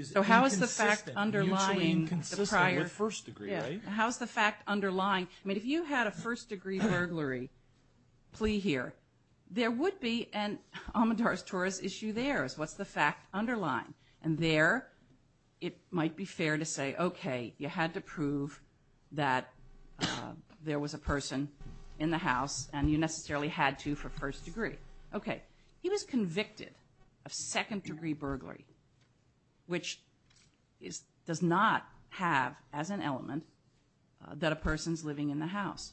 So how is the fact underlying the prior... Mutually inconsistent with first degree, right? Yeah. How is the fact underlying? I mean, if you had a first degree burglary plea here, there would be an Amadours-Torres issue there. What's the fact underlying? And there it might be fair to say, okay, you had to prove that there was a person in the house and you necessarily had to for first degree. Okay. He was convicted of second degree burglary, which does not have as an element that a person's living in the house.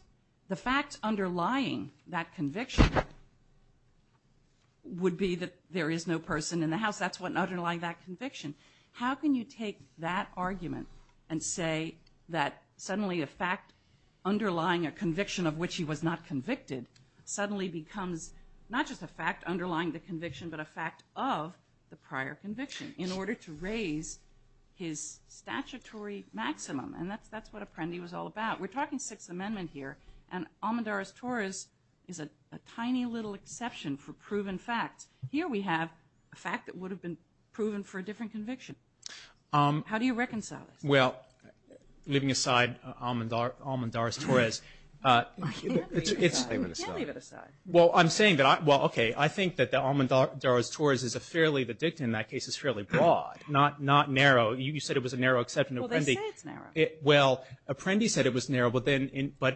The fact underlying that conviction would be that there is no person in the house. That's what underlying that conviction. How can you take that argument and say that suddenly a fact underlying a case in which he was not convicted suddenly becomes not just a fact underlying the conviction but a fact of the prior conviction in order to raise his statutory maximum? And that's what Apprendi was all about. We're talking Sixth Amendment here and Amadours-Torres is a tiny little exception for proven facts. Here we have a fact that would have been proven for a different conviction. How do you reconcile this? Well, leaving aside Amadours-Torres. You can't leave it aside. You can't leave it aside. Well, I'm saying that, well, okay, I think that Amadours-Torres is a fairly, the dictum in that case is fairly broad, not narrow. You said it was a narrow exception to Apprendi. Well, they say it's narrow. Well, Apprendi said it was narrow, but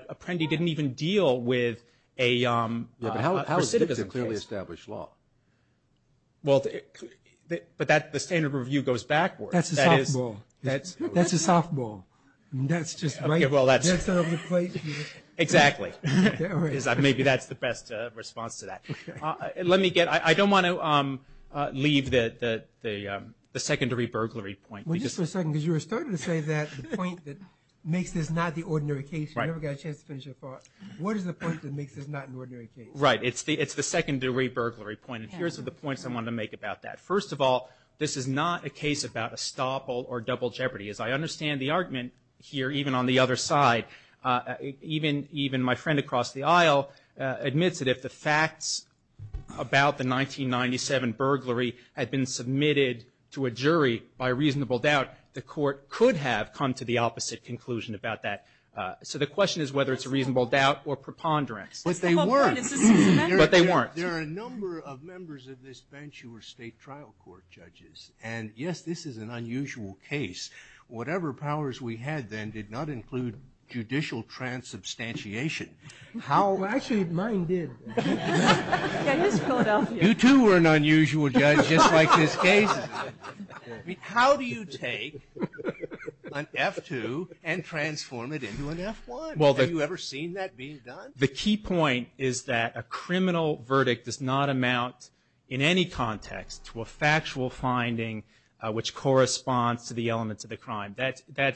Apprendi didn't even deal with a specific case. Yeah, but how is dictum clearly established law? Well, but the standard review goes backwards. That's the softball. That's the softball. That's just right. Exactly. Maybe that's the best response to that. Let me get, I don't want to leave the secondary burglary point. Well, just for a second, because you were starting to say that the point that makes this not the ordinary case. You never got a chance to finish your thought. What is the point that makes this not an ordinary case? Right. It's the secondary burglary point, and here's the points I wanted to make about that. First of all, this is not a case about estoppel or double jeopardy. As I understand the argument here, even on the other side, even my friend across the aisle admits that if the facts about the 1997 burglary had been submitted to a jury by reasonable doubt, the court could have come to the opposite conclusion about that. So the question is whether it's a reasonable doubt or preponderance. But they weren't. But they weren't. There are a number of members of this bench who were state trial court judges. And, yes, this is an unusual case. Whatever powers we had then did not include judicial transubstantiation. Actually, mine did. You, too, were an unusual judge, just like this case. How do you take an F-2 and transform it into an F-1? Have you ever seen that being done? The key point is that a criminal verdict does not amount, in any context, to a factual finding which corresponds to the elements of the crime. There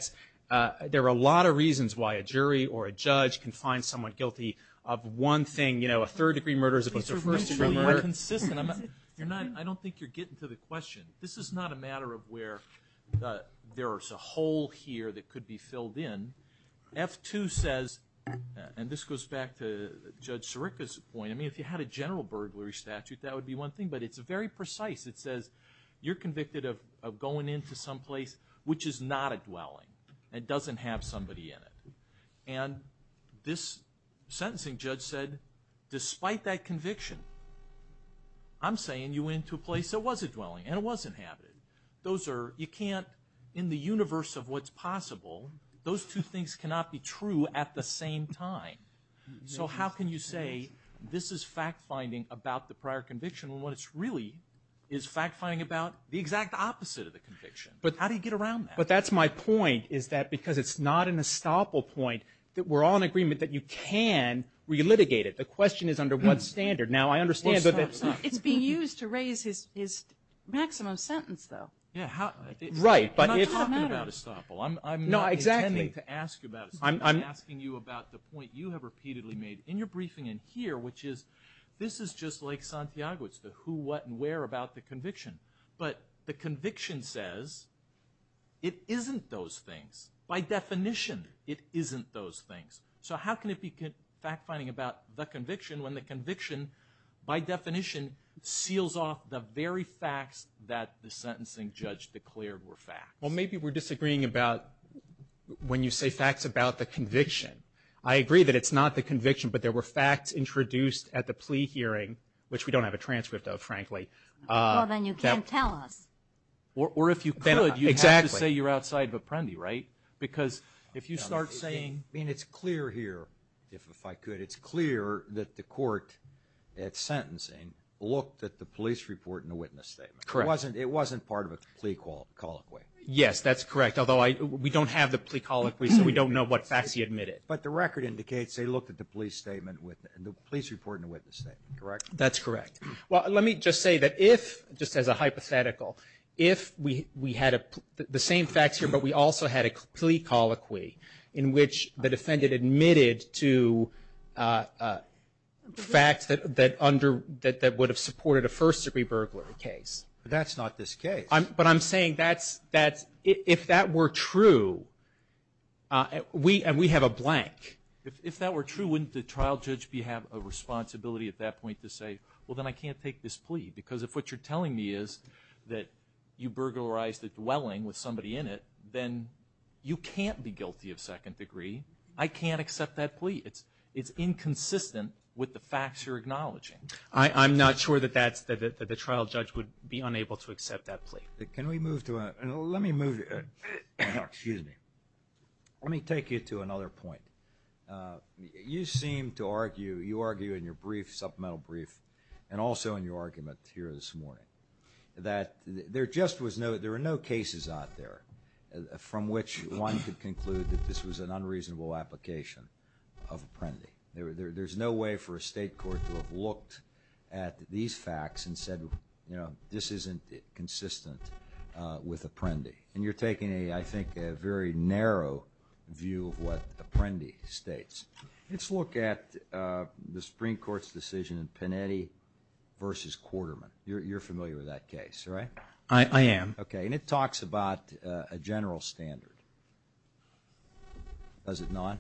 are a lot of reasons why a jury or a judge can find someone guilty of one thing. You know, a third-degree murder is a first-degree murder. I don't think you're getting to the question. This is not a matter of where there is a hole here that could be filled in. F-2 says, and this goes back to Judge Sirica's point, I mean, if you had a general burglary statute, that would be one thing. But it's very precise. It says you're convicted of going into someplace which is not a dwelling and doesn't have somebody in it. And this sentencing judge said, despite that conviction, I'm saying you went into a place that was a dwelling and it was inhabited. You can't, in the universe of what's possible, those two things cannot be true at the same time. So how can you say this is fact-finding about the prior conviction when what it's really is fact-finding about the exact opposite of the conviction? How do you get around that? But that's my point, is that because it's not an estoppel point, that we're all in agreement that you can relitigate it. The question is under what standard. Now, I understand that that's not. It's being used to raise his maximum sentence, though. Yeah. Right. I'm not talking about estoppel. No, exactly. I'm not intending to ask you about estoppel. I'm asking you about the point you have repeatedly made in your briefing in here, which is this is just like Santiago. It's the who, what, and where about the conviction. But the conviction says it isn't those things. By definition, it isn't those things. So how can it be fact-finding about the conviction when the conviction, by definition, seals off the very facts that the sentencing judge declared were facts? Well, maybe we're disagreeing about when you say facts about the conviction. I agree that it's not the conviction, but there were facts introduced at the plea hearing, which we don't have a transcript of, frankly. Well, then you can't tell us. Or if you could, you'd have to say you're outside of Apprendi, right? Because if you start saying – I mean, it's clear here, if I could, it's clear that the court at sentencing looked at the police report and the witness statement. Correct. It wasn't part of a plea colloquy. Yes, that's correct. Although we don't have the plea colloquy, so we don't know what facts he admitted. But the record indicates they looked at the police statement and the police report and the witness statement. Correct? That's correct. Well, let me just say that if, just as a hypothetical, if we had the same facts here, but we also had a plea colloquy in which the defendant admitted to facts that would have supported a first-degree burglary case. But that's not this case. But I'm saying if that were true, and we have a blank. If that were true, wouldn't the trial judge have a responsibility at that point to say, well, then I can't take this plea? Because if what you're telling me is that you burglarized the dwelling with somebody in it, then you can't be guilty of second degree. It's inconsistent with the facts you're acknowledging. I'm not sure that the trial judge would be unable to accept that plea. Can we move to a – let me move – excuse me. Let me take you to another point. You seem to argue, you argue in your brief, supplemental brief, and also in your argument here this morning, that there just was no – there were no cases out there from which one could conclude that this was an unreasonable application of apprentice. There's no way for a state court to have looked at these facts and said, you know, this isn't consistent with apprendi. And you're taking, I think, a very narrow view of what apprendi states. Let's look at the Supreme Court's decision in Panetti v. Quarterman. You're familiar with that case, right? I am. Okay. And it talks about a general standard. Does it not?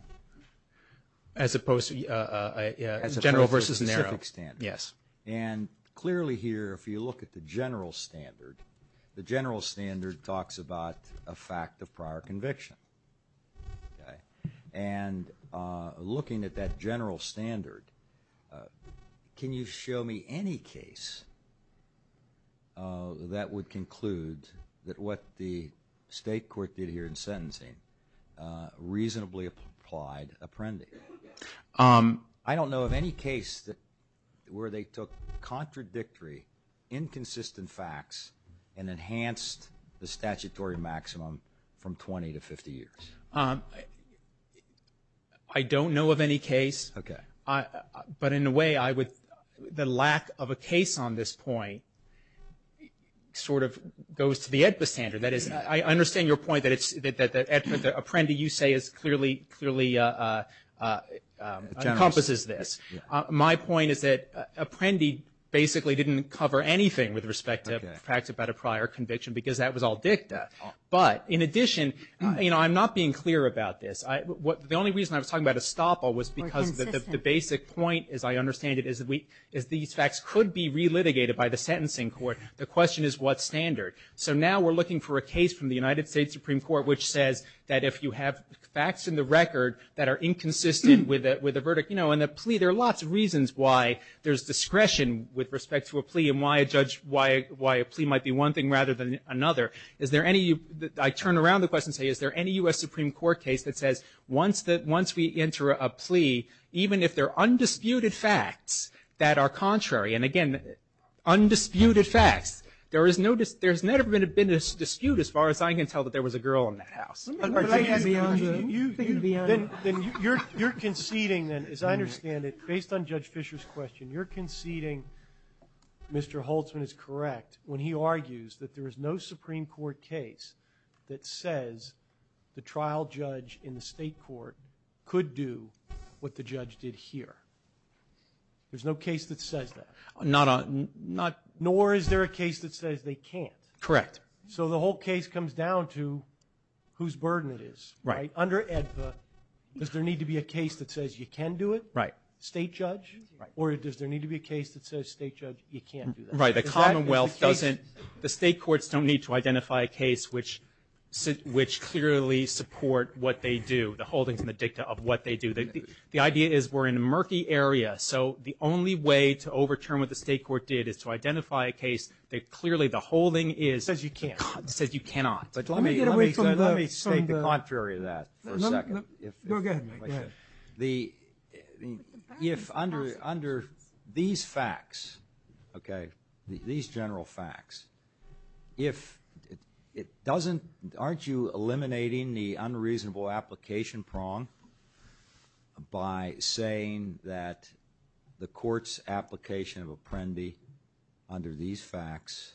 As opposed to general versus narrow. As opposed to a specific standard. Yes. And clearly here, if you look at the general standard, the general standard talks about a fact of prior conviction. And looking at that general standard, can you show me any case that would conclude that what the state court did here in sentencing reasonably applied apprendi? I don't know of any case where they took contradictory, inconsistent facts and enhanced the statutory maximum from 20 to 50 years. I don't know of any case. Okay. But in a way, the lack of a case on this point sort of goes to the AEDPA standard. That is, I understand your point that apprendi, you say, clearly encompasses this. My point is that apprendi basically didn't cover anything with respect to facts about a prior conviction because that was all dicta. But in addition, you know, I'm not being clear about this. The only reason I was talking about estoppel was because the basic point, as I understand it, is these facts could be relitigated by the sentencing court. The question is what standard. So now we're looking for a case from the United States Supreme Court which says that if you have facts in the record that are inconsistent with a verdict, you know, in a plea, there are lots of reasons why there's discretion with respect to a plea and why a plea might be one thing rather than another. I turn around the question and say, is there any U.S. Supreme Court case that says once we enter a plea, even if there are undisputed facts that are contrary, and again, undisputed facts, there has never been a dispute as far as I can tell that there was a girl in that house. You're conceding then, as I understand it, based on Judge Fischer's question, you're conceding Mr. Holtzman is correct when he argues that there is no Supreme Court case that says the trial judge in the state court could do what the judge did here. There's no case that says that. Nor is there a case that says they can't. Correct. So the whole case comes down to whose burden it is. Right. Under AEDPA, does there need to be a case that says you can do it? Right. State judge? Right. Or does there need to be a case that says state judge, you can't do that? Right. The Commonwealth doesn't – the state courts don't need to identify a case which clearly support what they do, the holdings and the dicta of what they do. The idea is we're in a murky area, so the only way to overturn what the state court did is to identify a case that clearly the holding is – Says you can't. Says you cannot. Let me state the contrary to that for a second. Go ahead. The – if under these facts, okay, these general facts, if it doesn't – aren't you eliminating the unreasonable application prong by saying that the court's application of apprendi under these facts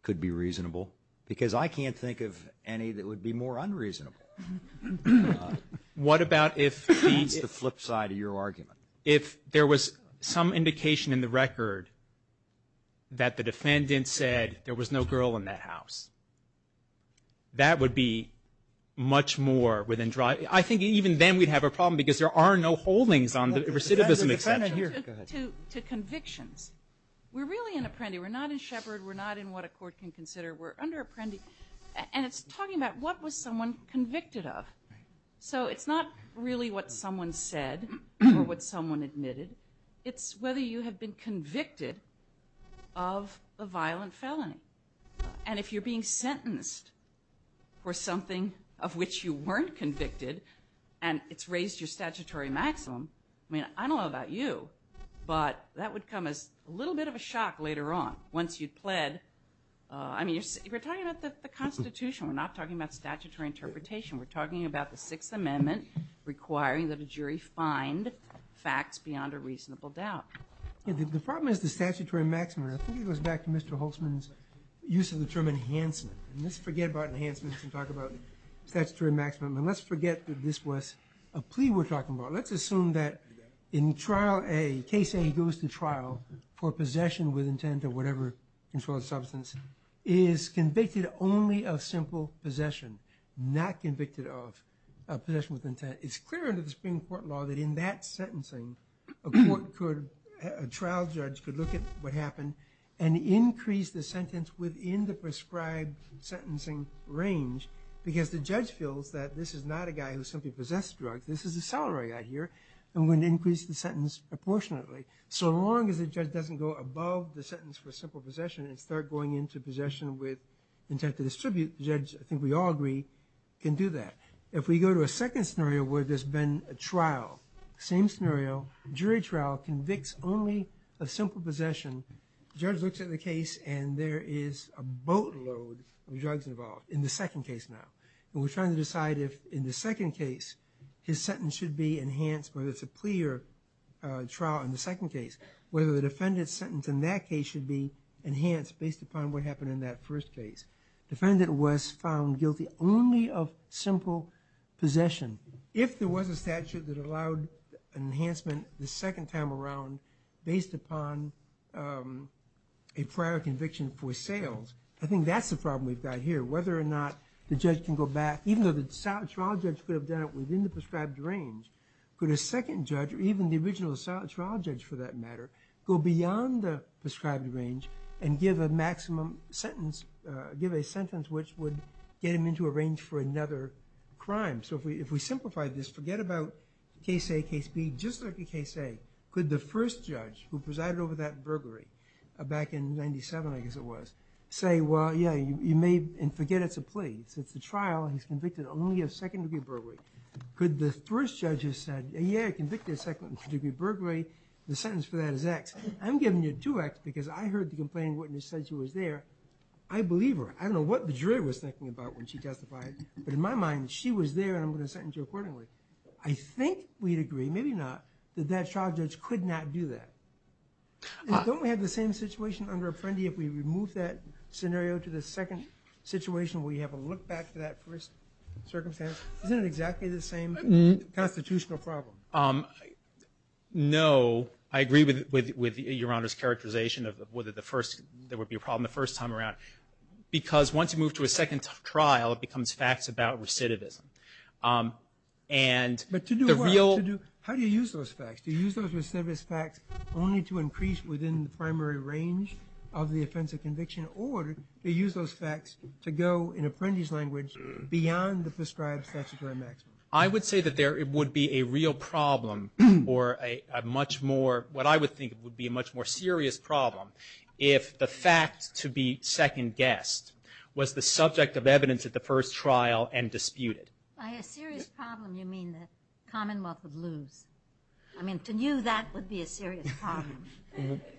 could be reasonable? Because I can't think of any that would be more unreasonable. What about if the – That's the flip side of your argument. If there was some indication in the record that the defendant said there was no girl in that house, that would be much more within – I think even then we'd have a problem because there are no holdings on the recidivism exception. To convictions. We're really in apprendi. We're not in Shepard. We're not in what a court can consider. We're under apprendi. And it's talking about what was someone convicted of. So it's not really what someone said or what someone admitted. It's whether you have been convicted of a violent felony. And if you're being sentenced for something of which you weren't convicted and it's raised your statutory maximum, I mean, I don't know about you, but that would come as a little bit of a shock later on. Once you pled – I mean, we're talking about the Constitution. We're not talking about statutory interpretation. We're talking about the Sixth Amendment requiring that a jury find facts beyond a reasonable doubt. The problem is the statutory maximum. I think it goes back to Mr. Holtzman's use of the term enhancement. And let's forget about enhancement and talk about statutory maximum. And let's forget that this was a plea we're talking about. Let's assume that in trial A, case A goes to trial for possession with intent of whatever controlled substance is convicted only of simple possession, not convicted of possession with intent. It's clear under the Supreme Court law that in that sentencing, a trial judge could look at what happened and increase the sentence within the prescribed sentencing range because the judge feels that this is not a guy who simply possesses drugs. This is a salary guy here, and we're going to increase the sentence proportionately. So long as the judge doesn't go above the sentence for simple possession and start going into possession with intent to distribute, the judge, I think we all agree, can do that. If we go to a second scenario where there's been a trial, same scenario, jury trial, convicts only of simple possession. The judge looks at the case and there is a boatload of drugs involved in the second case now. We're trying to decide if in the second case his sentence should be enhanced, whether it's a plea or trial in the second case, whether the defendant's sentence in that case should be enhanced based upon what happened in that first case. Defendant was found guilty only of simple possession. If there was a statute that allowed enhancement the second time around based upon a prior conviction for sales, I think that's the problem we've got here. Whether or not the judge can go back, even though the trial judge could have done it within the prescribed range, could a second judge, or even the original trial judge for that matter, go beyond the prescribed range and give a maximum sentence, give a sentence which would get him into a range for another crime. So if we simplify this, forget about case A, case B. Just like in case A, could the first judge who presided over that burglary back in 1997, I guess it was, say, well, yeah, you may, and forget it's a plea. It's a trial. He's convicted only of second-degree burglary. Could the first judge have said, yeah, convicted of second-degree burglary. The sentence for that is X. I'm giving you two X because I heard the complaining witness said she was there. I believe her. I don't know what the jury was thinking about when she testified. But in my mind, she was there, and I'm going to sentence her accordingly. I think we'd agree, maybe not, that that trial judge could not do that. Don't we have the same situation under Apprendi if we remove that scenario to the second situation where you have a look back to that first circumstance? Isn't it exactly the same constitutional problem? No. I agree with Your Honor's characterization of whether there would be a problem the first time around because once you move to a second trial, it becomes facts about recidivism. But to do what? How do you use those facts? Do you use those recidivist facts only to increase within the primary range of the offense of conviction, or do you use those facts to go in Apprendi's language beyond the prescribed statutory maximum? I would say that there would be a real problem or a much more— what I would think would be a much more serious problem if the fact to be second-guessed was the subject of evidence at the first trial and disputed. By a serious problem, you mean the Commonwealth would lose. I mean, to you, that would be a serious problem.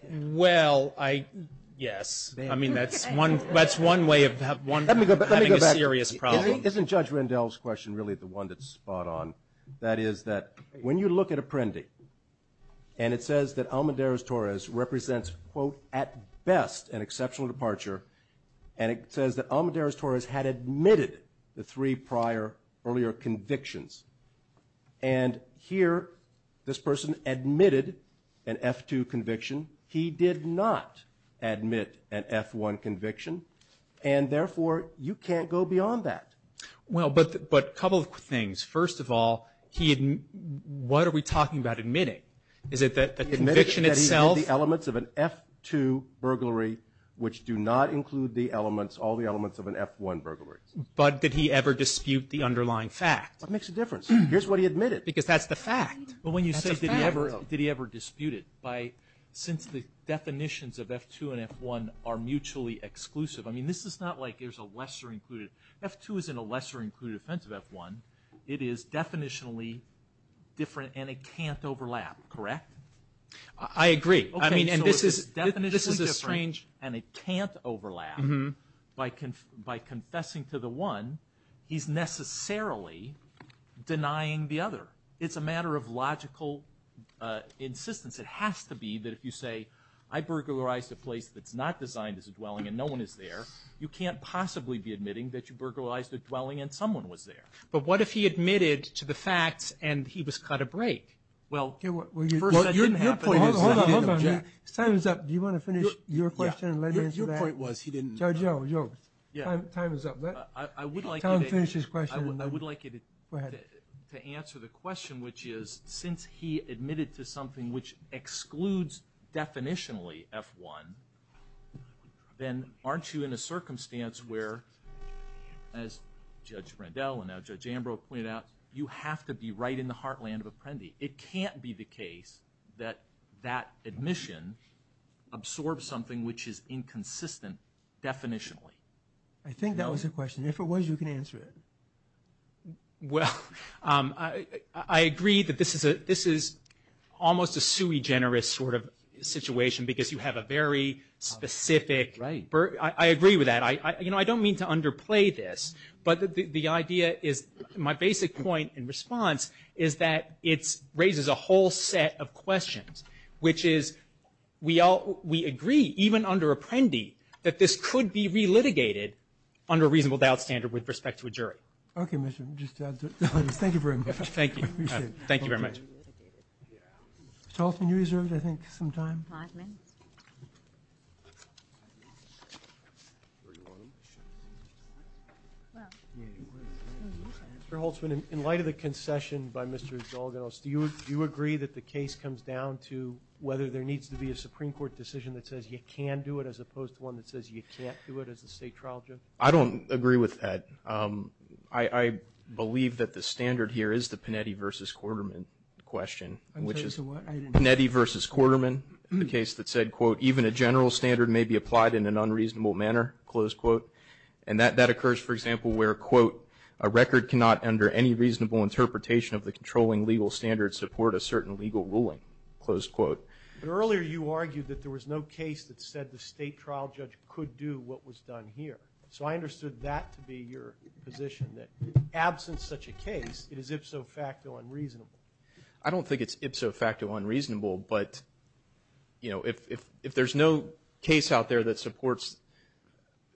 Well, I—yes. I mean, that's one way of having a serious problem. Let me go back. Isn't Judge Rendell's question really the one that's spot on? That is that when you look at Apprendi, and it says that Almedares-Torres represents, quote, at best, an exceptional departure, and it says that Almedares-Torres had admitted the three prior earlier convictions, and here this person admitted an F-2 conviction. He did not admit an F-1 conviction, and therefore you can't go beyond that. Well, but a couple of things. First of all, what are we talking about admitting? Is it the conviction itself? He admitted that he had the elements of an F-2 burglary, which do not include the elements, all the elements of an F-1 burglary. But did he ever dispute the underlying fact? What makes the difference? Here's what he admitted, because that's the fact. But when you say did he ever dispute it, since the definitions of F-2 and F-1 are mutually exclusive, I mean, this is not like there's a lesser included. F-2 is in a lesser included sense of F-1. It is definitionally different, and it can't overlap, correct? I agree. I mean, and this is definitionally different, and it can't overlap. By confessing to the one, he's necessarily denying the other. It's a matter of logical insistence. It has to be that if you say I burglarized a place that's not designed as a dwelling and no one is there, you can't possibly be admitting that you burglarized a dwelling and someone was there. But what if he admitted to the facts and he was cut a break? Well, first that didn't happen. Hold on. Time is up. Do you want to finish your question and let me answer that? My point was he didn't. Joe, time is up. I would like you to answer the question, which is since he admitted to something which excludes definitionally F-1, then aren't you in a circumstance where, as Judge Randell and now Judge Ambrose pointed out, you have to be right in the heartland of Apprendi. It can't be the case that that admission absorbs something which is inconsistent definitionally. I think that was the question. If it was, you can answer it. Well, I agree that this is almost a sui generis sort of situation because you have a very specific – I agree with that. I don't mean to underplay this, but the idea is – my basic point in response is that it raises a whole set of questions, which is we agree, even under Apprendi, that this could be re-litigated under a reasonable doubt standard with respect to a jury. Okay. Thank you very much. Thank you very much. Mr. Holtzman, you reserved, I think, some time. Five minutes. Mr. Holtzman, in light of the concession by Mr. Zolganos, do you agree that the case comes down to whether there needs to be a Supreme Court decision that says you can do it as opposed to one that says you can't do it as a state trial judge? I don't agree with that. I believe that the standard here is the Panetti v. Quarterman question, which is Panetti v. Quarterman, the case that said, quote, even a general standard may be applied in an unreasonable manner, close quote, and that occurs, for example, where, quote, a record cannot, under any reasonable interpretation of the controlling legal standard, support a certain legal ruling, close quote. Earlier you argued that there was no case that said the state trial judge could do what was done here. So I understood that to be your position, that absent such a case, it is ipso facto unreasonable. I don't think it's ipso facto unreasonable, but, you know, if there's no case out there that supports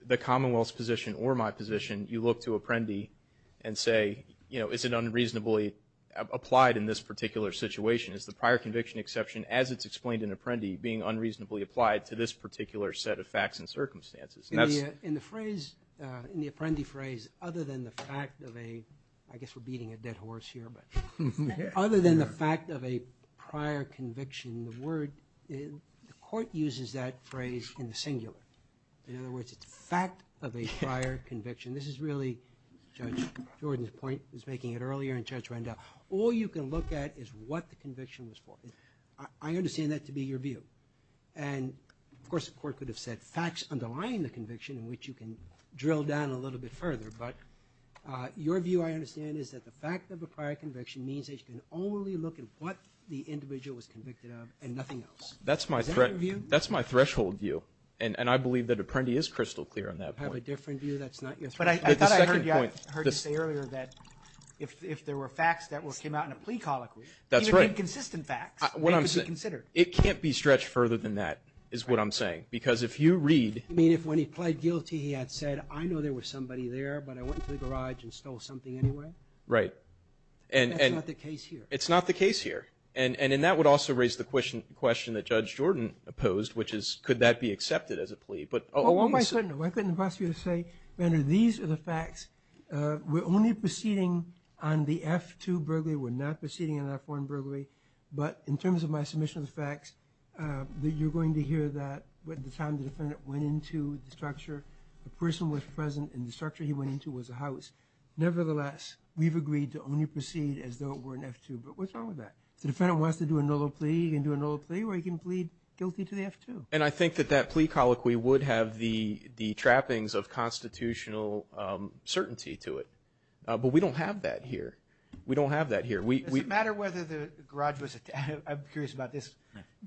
the Commonwealth's position or my position, you look to Apprendi and say, you know, is it unreasonably applied in this particular situation? Is the prior conviction exception, as it's explained in Apprendi, being unreasonably applied to this particular set of facts and circumstances? In the phrase, in the Apprendi phrase, other than the fact of a, I guess we're beating a dead horse here, but, other than the fact of a prior conviction, the word, the court uses that phrase in the singular. In other words, it's a fact of a prior conviction. This is really Judge Jordan's point. He was making it earlier, and Judge Rendell. All you can look at is what the conviction was for. I understand that to be your view. And, of course, the court could have said facts underlying the conviction, which you can drill down a little bit further. But your view, I understand, is that the fact of a prior conviction means that you can only look at what the individual was convicted of and nothing else. Is that your view? And I believe that Apprendi is crystal clear on that point. I have a different view. That's not your point. But I thought I heard you say earlier that if there were facts that came out in a plea colloquy, even inconsistent facts, they could be considered. It can't be stretched further than that, is what I'm saying. Because if you read. You mean if when he pled guilty he had said, I know there was somebody there, but I went into the garage and stole something anyway? Right. That's not the case here. It's not the case here. And that would also raise the question that Judge Jordan opposed, which is could that be accepted as a plea? Oh, I'm not certain. I couldn't possibly say. These are the facts. We're only proceeding on the F-2 burglary. We're not proceeding on the F-1 burglary. But in terms of my submission of the facts, you're going to hear that at the time the defendant went into the structure, the person was present and the structure he went into was a house. Nevertheless, we've agreed to only proceed as though it were an F-2. But what's wrong with that? If the defendant wants to do another plea, he can do another plea or he can plead guilty to the F-2. And I think that that plea colloquy would have the trappings of constitutional certainty to it. But we don't have that here. We don't have that here. Does it matter whether the garage was attached? I'm curious about this.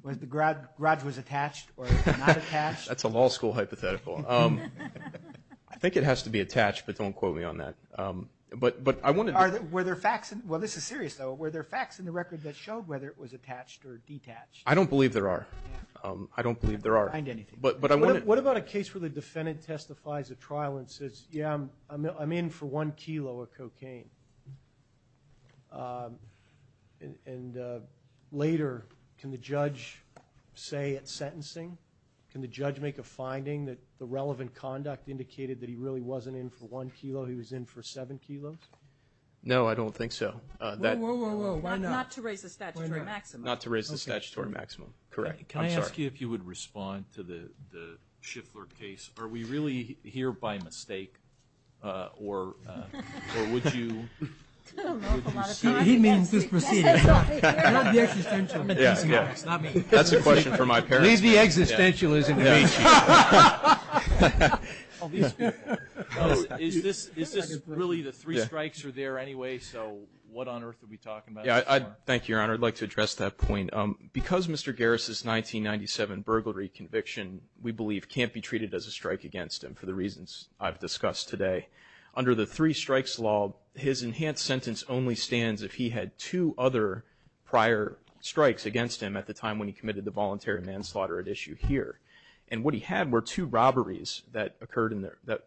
Was the garage was attached or not attached? That's a law school hypothetical. I think it has to be attached, but don't quote me on that. But I want to know. Were there facts? Well, this is serious, though. Were there facts in the record that showed whether it was attached or detached? I don't believe there are. I don't believe there are. What about a case where the defendant testifies at trial and says, yeah, I'm in for one kilo of cocaine? And later, can the judge say at sentencing, can the judge make a finding that the relevant conduct indicated that he really wasn't in for one kilo, he was in for seven kilos? No, I don't think so. Whoa, whoa, whoa. Why not? Not to raise the statutory maximum. Not to raise the statutory maximum. Correct. Can I ask you if you would respond to the Schiffler case? Are we really here by mistake? Or would you? He means this proceeding. Not the existential. That's a question for my parents. Maybe existentialism. Is this really the three strikes are there anyway? So what on earth are we talking about? Thank you, Your Honor. I'd like to address that point. Because Mr. Garris' 1997 burglary conviction, we believe can't be treated as a strike against him for the reasons I've discussed today. Under the three strikes law, his enhanced sentence only stands if he had two other prior strikes against him at the time when he committed the voluntary manslaughter at issue here. And what he had were two robberies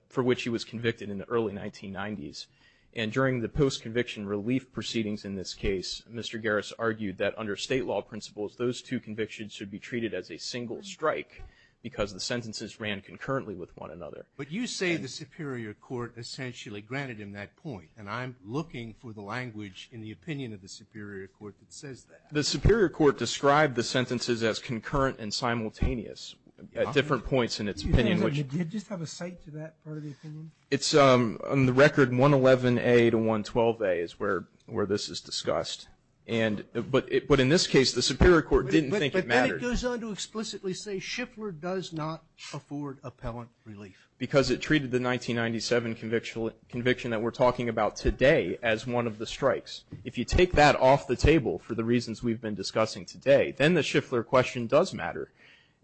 for which he was convicted in the early 1990s. And during the post-conviction relief proceedings in this case, Mr. Garris argued that under State law principles, those two convictions should be treated as a single strike because the sentences ran concurrently with one another. But you say the Superior Court essentially granted him that point. And I'm looking for the language in the opinion of the Superior Court that says that. The Superior Court described the sentences as concurrent and simultaneous at different points in its opinion. Do you just have a cite to that part of the opinion? It's on the record 111A to 112A is where this is discussed. But in this case, the Superior Court didn't think it mattered. But then it goes on to explicitly say Schiffler does not afford appellant relief. Because it treated the 1997 conviction that we're talking about today as one of the strikes. If you take that off the table for the reasons we've been discussing today, then the Schiffler question does matter.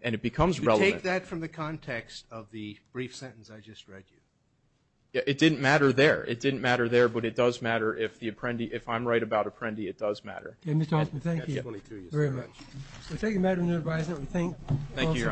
And it becomes relevant. Take that from the context of the brief sentence I just read you. It didn't matter there. It didn't matter there. But it does matter if I'm right about Apprendi. It does matter. Mr. Hoffman, thank you very much. Thank you, Madam Advisor. We thank you. Thank you, Your Honor.